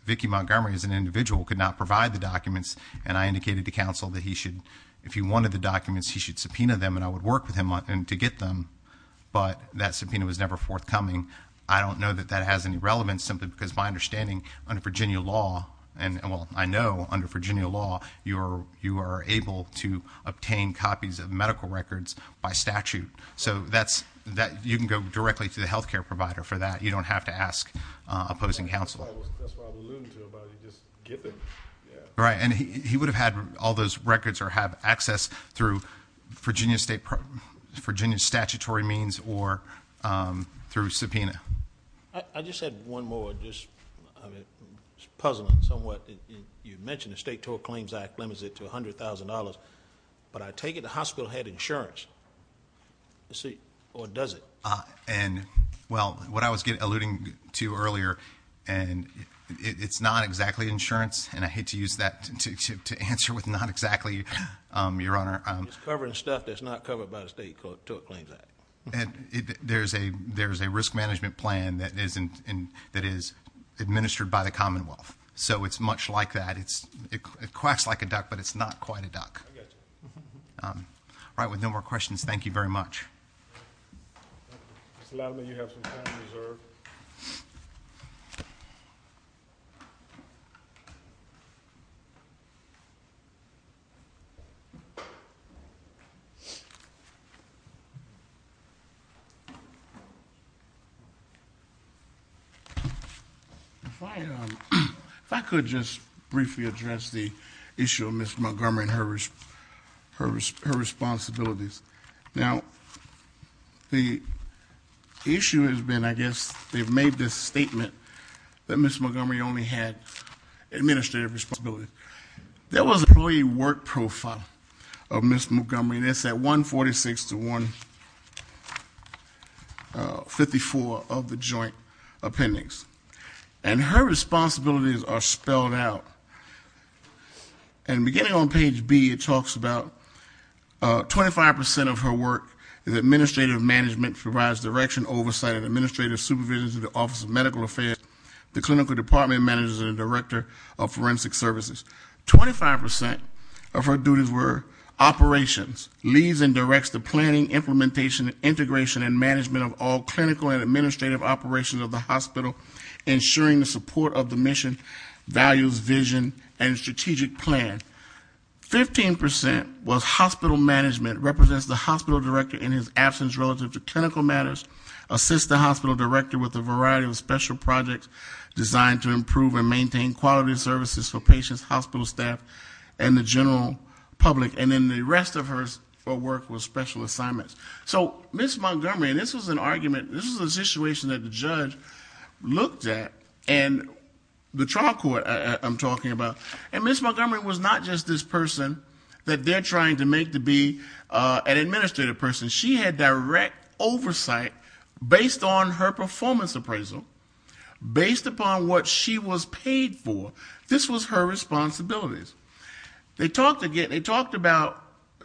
Vicki Montgomery as an individual could not provide the documents, and I indicated to counsel that he should... If he wanted the documents, he should subpoena them, and I would work with him to get them, but that subpoena was never forthcoming. I don't know that that has any relevance simply because my understanding under Virginia law... Well, I know under Virginia law you are able to obtain copies of medical records by statute. So you can go directly to the health care provider for that. You don't have to ask opposing counsel. That's what I was alluding to about you just giving... Right, and he would have had all those records or have access through Virginia's statutory means or through subpoena. I just had one more, just puzzling somewhat. You mentioned the State Tort Claims Act limits it to $100,000, but I take it the hospital had insurance, or does it? Well, what I was alluding to earlier, and it's not exactly insurance, and I hate to use that to answer with not exactly, Your Honor. It's covering stuff that's not covered by the State Tort Claims Act. There's a risk management plan that is administered by the Commonwealth. So it's much like that. It quacks like a duck, but it's not quite a duck. I got you. All right, with no more questions, thank you very much. Mr. Latimer, you have some time reserved. Thank you. If I could just briefly address the issue of Ms. Montgomery and her responsibilities. Now, the issue has been, I guess, they've made this statement that Ms. Montgomery only had administrative responsibilities. There was an employee work profile of Ms. Montgomery, and it's at 146 to 154 of the joint appendix. And her responsibilities are spelled out. And beginning on page B, it talks about 25% of her work is administrative management, provides direction, oversight, and administrative supervision to the Office of Medical Affairs, the clinical department managers, and the director of forensic services. 25% of her duties were operations, leads and directs the planning, implementation, integration, and management of all clinical and administrative operations of the hospital, ensuring the support of the mission, values, vision, and strategic plan. 15% was hospital management, represents the hospital director in his absence relative to clinical matters, assists the hospital director with a variety of special projects designed to improve and maintain quality services for patients, hospital staff, and the general public. And then the rest of her work was special assignments. So Ms. Montgomery, and this was an argument, this was a situation that the judge looked at, and the trial court I'm talking about, and Ms. Montgomery was not just this person that they're trying to make to be an administrative person. She had direct oversight based on her performance appraisal, based upon what she was paid for. This was her responsibilities. They talked about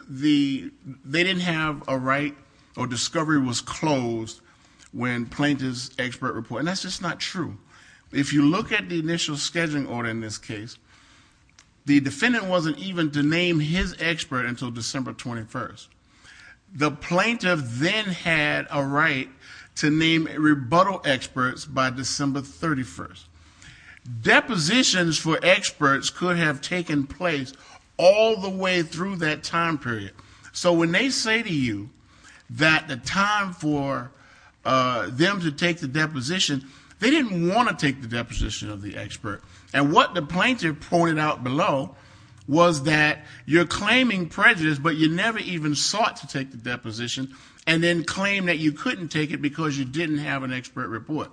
they didn't have a right or discovery was closed when plaintiff's expert report, and that's just not true. If you look at the initial scheduling order in this case, the defendant wasn't even to name his expert until December 21st. The plaintiff then had a right to name rebuttal experts by December 31st. Depositions for experts could have taken place all the way through that time period. So when they say to you that the time for them to take the deposition, they didn't want to take the deposition of the expert. And what the plaintiff pointed out below was that you're claiming prejudice, but you never even sought to take the deposition, and then claim that you couldn't take it because you didn't have an expert report.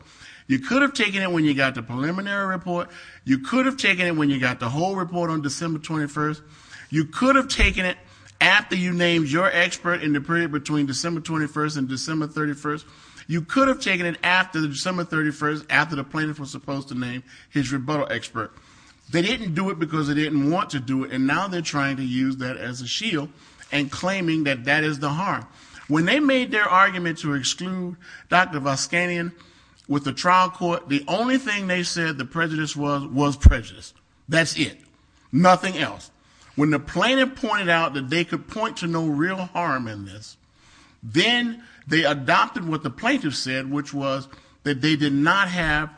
You could have taken it when you got the preliminary report. You could have taken it when you got the whole report on December 21st. You could have taken it after you named your expert in the period between December 21st and December 31st. You could have taken it after December 31st, after the plaintiff was supposed to name his rebuttal expert. They didn't do it because they didn't want to do it, and now they're trying to use that as a shield and claiming that that is the harm. When they made their argument to exclude Dr. Voskanian with the trial court, the only thing they said the prejudice was was prejudice. That's it. Nothing else. When the plaintiff pointed out that they could point to no real harm in this, then they adopted what the plaintiff said, which was that they did not have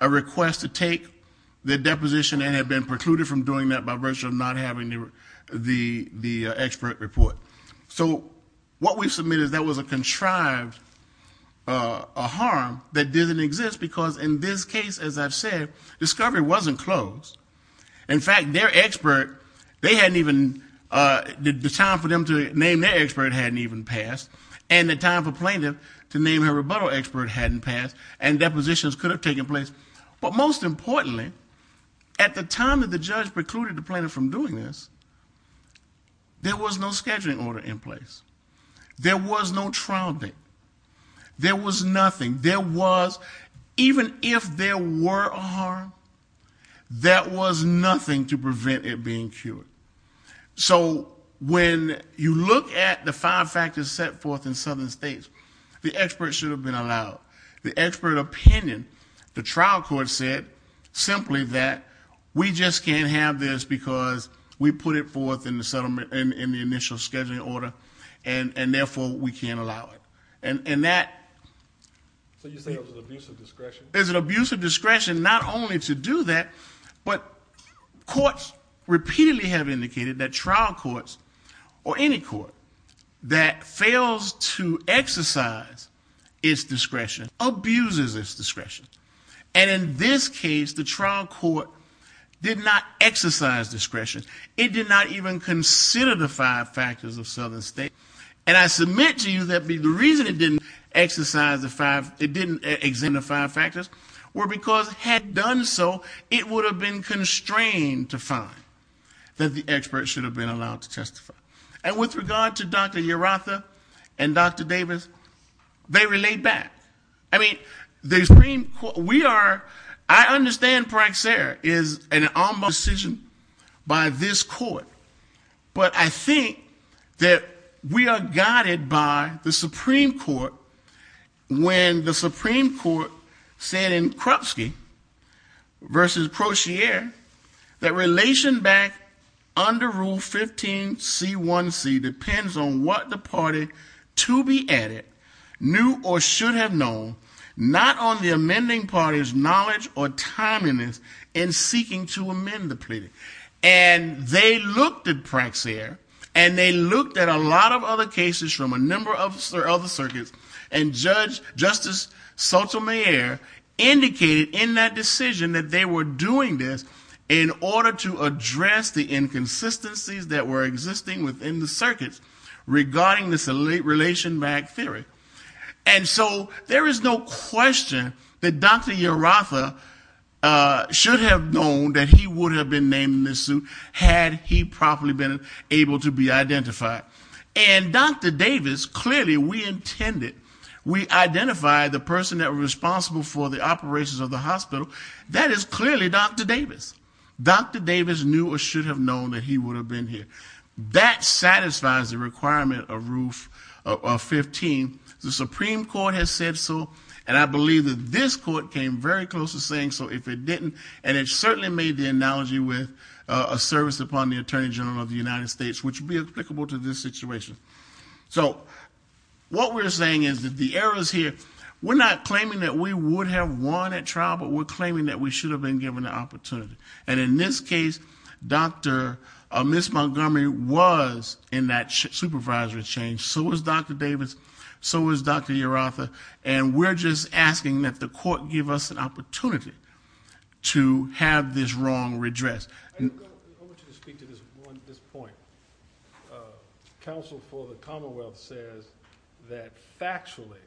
a request to take the deposition and had been precluded from doing that by virtue of not having the expert report. So what we submit is that was a contrived harm that didn't exist because in this case, as I've said, discovery wasn't closed. In fact, their expert, the time for them to name their expert hadn't even passed, and the time for plaintiff to name her rebuttal expert hadn't passed, and depositions could have taken place. But most importantly, at the time that the judge precluded the plaintiff from doing this, there was no scheduling order in place. There was no trial date. There was nothing. Even if there were a harm, that was nothing to prevent it being cured. So when you look at the five factors set forth in Southern states, the expert should have been allowed. The expert opinion, the trial court said simply that we just can't have this because we put it forth in the initial scheduling order, and therefore we can't allow it. So you say it was an abuse of discretion? It was an abuse of discretion not only to do that, but courts repeatedly have indicated that trial courts or any court that fails to exercise its discretion abuses its discretion. And in this case, the trial court did not exercise discretion. It did not even consider the five factors of Southern states. And I submit to you that the reason it didn't exercise the five, it didn't exempt the five factors were because had it done so, it would have been constrained to find that the expert should have been allowed to testify. And with regard to Dr. Urratha and Dr. Davis, they relayed back. I mean, the Supreme Court, we are, I understand Praxair is an ombuds decision by this court, but I think that we are guided by the Supreme Court when the Supreme Court said in Krupsky versus Crozier that relation back under Rule 15c1c depends on what the party to be added knew or should have known, not on the amending party's knowledge or timeliness in seeking to amend the plea. And they looked at Praxair and they looked at a lot of other cases from a number of other circuits and Justice Sotomayor indicated in that decision that they were doing this in order to address the inconsistencies that were existing within the circuits regarding this relation back theory. And so there is no question that Dr. Urratha should have known that he would have been named in this suit had he probably been able to be identified. And Dr. Davis, clearly we intended, we identified the person that was responsible for the operations of the hospital, that is clearly Dr. Davis. Dr. Davis knew or should have known that he would have been here. That satisfies the requirement of Rule 15. The Supreme Court has said so, and I believe that this court came very close to saying so if it didn't. And it certainly made the analogy with a service upon the Attorney General of the United States, which would be applicable to this situation. So what we're saying is that the errors here, we're not claiming that we would have won at trial, but we're claiming that we should have been given the opportunity. And in this case, Ms. Montgomery was in that supervisory change. So was Dr. Davis. So was Dr. Urratha. And we're just asking that the court give us an opportunity to have this wrong redress. I want you to speak to this point. Council for the Commonwealth says that factually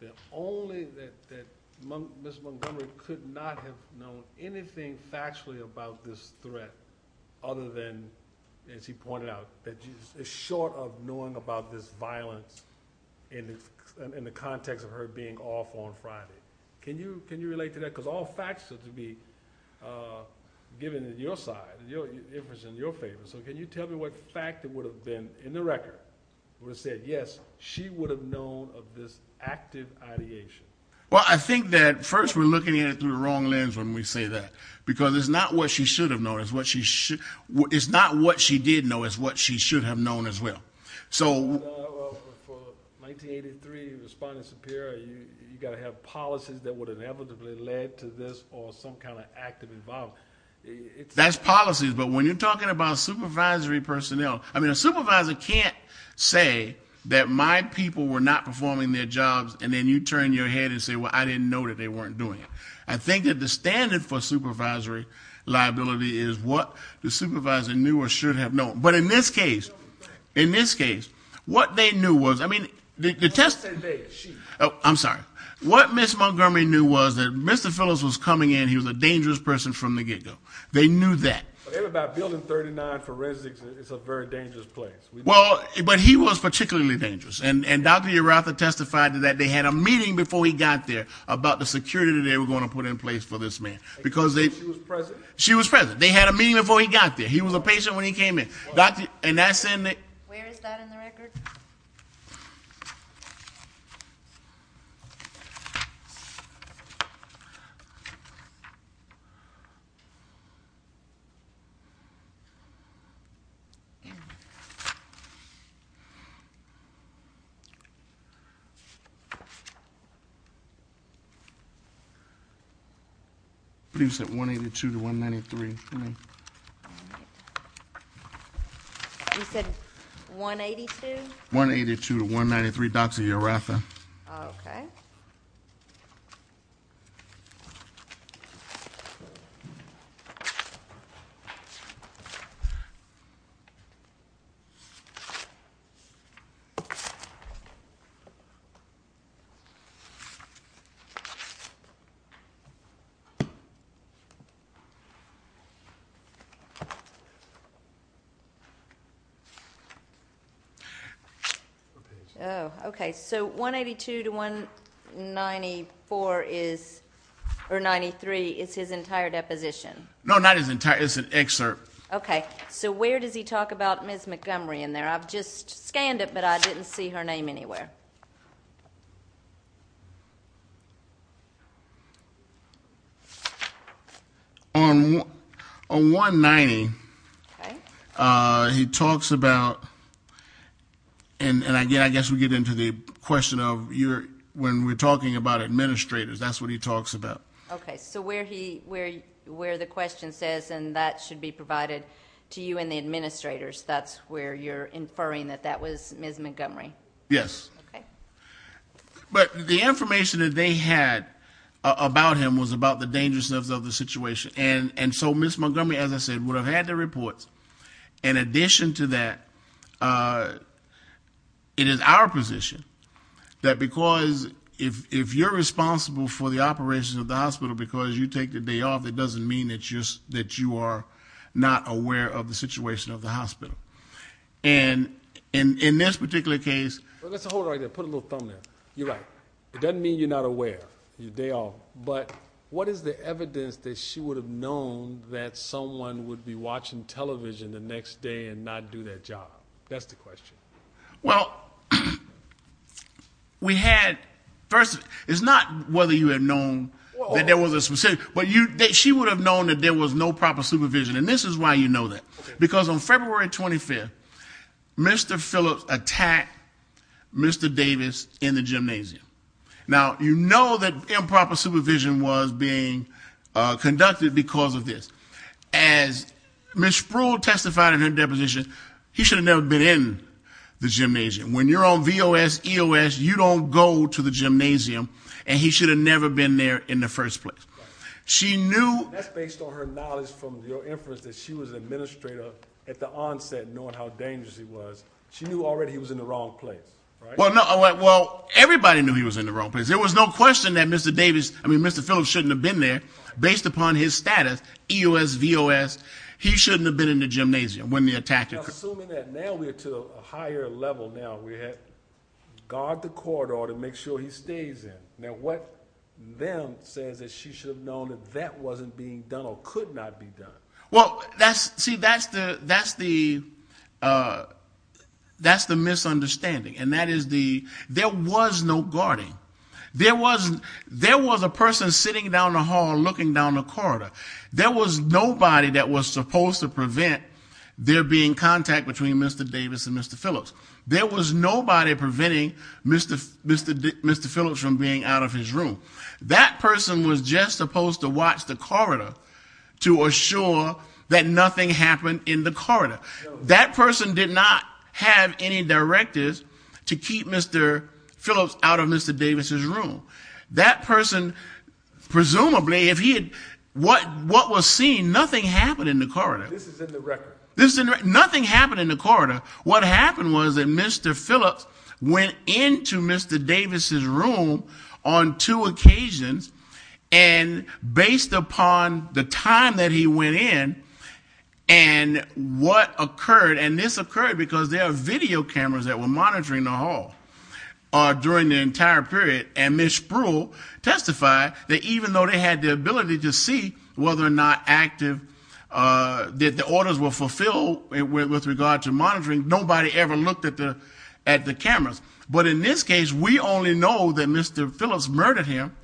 that only Ms. Montgomery could not have known anything factually about this threat other than, as he pointed out, that she's short of knowing about this violence in the context of her being off on Friday. Can you relate to that? Because all facts are to be given in your side, in your favor. So can you tell me what fact it would have been in the record would have said yes, she would have known of this active ideation? Well, I think that first we're looking at it through the wrong lens when we say that. Because it's not what she should have known. It's not what she did know. It's what she should have known as well. Well, for 1983 respondent superior, you got to have policies that would inevitably lead to this or some kind of active involvement. That's policies. But when you're talking about supervisory personnel, I mean, a supervisor can't say that my people were not performing their jobs and then you turn your head and say, well, I didn't know that they weren't doing it. I think that the standard for supervisory liability is what the supervisor knew or should have known. But in this case, in this case, what they knew was, I mean, the test... Oh, I'm sorry. What Ms. Montgomery knew was that Mr. Phillips was coming in, he was a dangerous person from the get-go. They knew that. They were about building 39 for residents. It's a very dangerous place. Well, but he was particularly dangerous. And Dr. Uratha testified that they had a meeting before he got there about the security that they were going to put in place for this man. She was present? She was present. They had a meeting before he got there. He was a patient when he came in. Where is that in the record? I believe it's at 182 to 193. All right. You said 182? 182 to 193, Dr. Uratha. Oh, okay. Okay. 94 is, or 93, is his entire deposition? No, not his entire. It's an excerpt. Okay. So where does he talk about Ms. Montgomery in there? I've just scanned it, but I didn't see her name anywhere. On 190, he talks about, and I guess we get into the question of when we're talking about administrators, that's what he talks about. Okay. So where the question says, and that should be provided to you and the administrators, that's where you're inferring that that was Ms. Montgomery? Yes. But the information that they had about him was about the dangerousness of the situation. And so Ms. Montgomery, as I said, would have had the reports. In addition to that, it is our position that because if you're responsible for the operations of the hospital because you take the day off, it doesn't mean that you are not aware of the situation of the hospital. And in this particular case... Let's hold it right there. Put a little thumb there. You're right. It doesn't mean you're not aware. You're a day off. But what is the evidence that she would have known that someone would be watching television the next day and not do their job? That's the question. Well, we had... First, it's not whether you had known that there was a... She would have known that there was no proper supervision. And this is why you know that. Because on February 25th, Mr. Phillips attacked Mr. Davis in the gymnasium. Now, you know that improper supervision was being conducted because of this. As Ms. Spruill testified in her deposition, he should have never been in the gymnasium. When you're on VOS, EOS, you don't go to the gymnasium. And he should have never been there in the first place. She knew... That's based on her knowledge from your inference that she was an administrator at the onset, knowing how dangerous he was. She knew already he was in the wrong place. Well, everybody knew he was in the wrong place. There was no question that Mr. Phillips shouldn't have been there based upon his status, EOS, VOS. He shouldn't have been in the gymnasium when the attack occurred. Assuming that now we're to a higher level now. We had to guard the corridor to make sure he stays in. Now, what then says that she should have known that that wasn't being done or could not be done? Well, see, that's the... That's the misunderstanding. There was no guarding. There was a person sitting down the hall looking down the corridor. There was nobody that was supposed to prevent there being contact between Mr. Davis and Mr. Phillips. There was nobody preventing Mr. Phillips from being out of his room. That person was just supposed to watch the corridor to assure that nothing happened in the corridor. That person did not have any directives to keep Mr. Phillips out of Mr. Davis' room. That person, presumably, if he had... What was seen, nothing happened in the corridor. This is in the record. Nothing happened in the corridor. What happened was that Mr. Phillips went into Mr. Davis' room on two occasions, and based upon the time that he went in and what occurred, and this occurred because there are video cameras that were monitoring the hall during the entire period, and Ms. Spruill testified that even though they had the ability to see whether or not active, that the orders were fulfilled with regard to monitoring, nobody ever looked at the cameras. But in this case, we only know that Mr. Phillips murdered him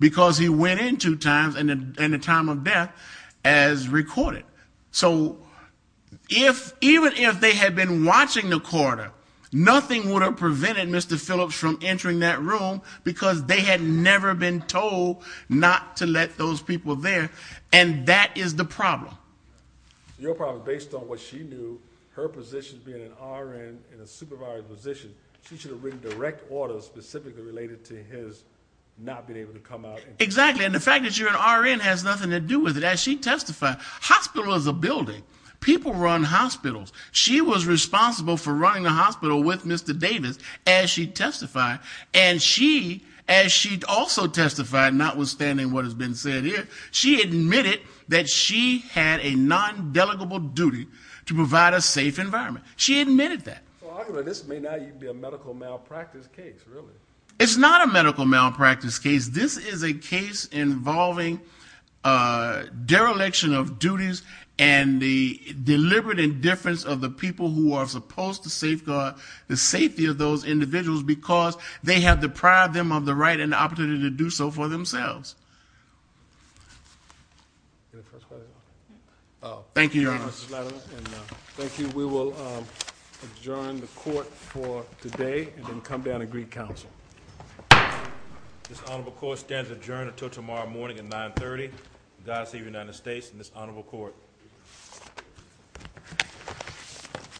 because he went in two times in the time of death as recorded. So even if they had been watching the corridor, nothing would have prevented Mr. Phillips from entering that room because they had never been told not to let those people there, and that is the problem. Your problem, based on what she knew, her position being an RN in a supervisory position, she should have written direct orders specifically related to his not being able to come out. Exactly, and the fact that you're an RN has nothing to do with it. As she testified, hospital is a building. People run hospitals. She was responsible for running the hospital with Mr. Davis, as she testified, and she also testified, notwithstanding what has been said here, she admitted that she had a non-delegable duty to provide a safe environment. She admitted that. This may not even be a medical malpractice case, really. It's not a medical malpractice case. This is a case involving dereliction of duties and the deliberate indifference of the people who are supposed to safeguard the safety of those individuals because they have deprived them of the right Thank you, Your Honor. Thank you, Mrs. Latimer. We will adjourn the court for today and then come down and greet counsel. This honorable court stands adjourned until tomorrow morning at 9.30. God save the United States and this honorable court.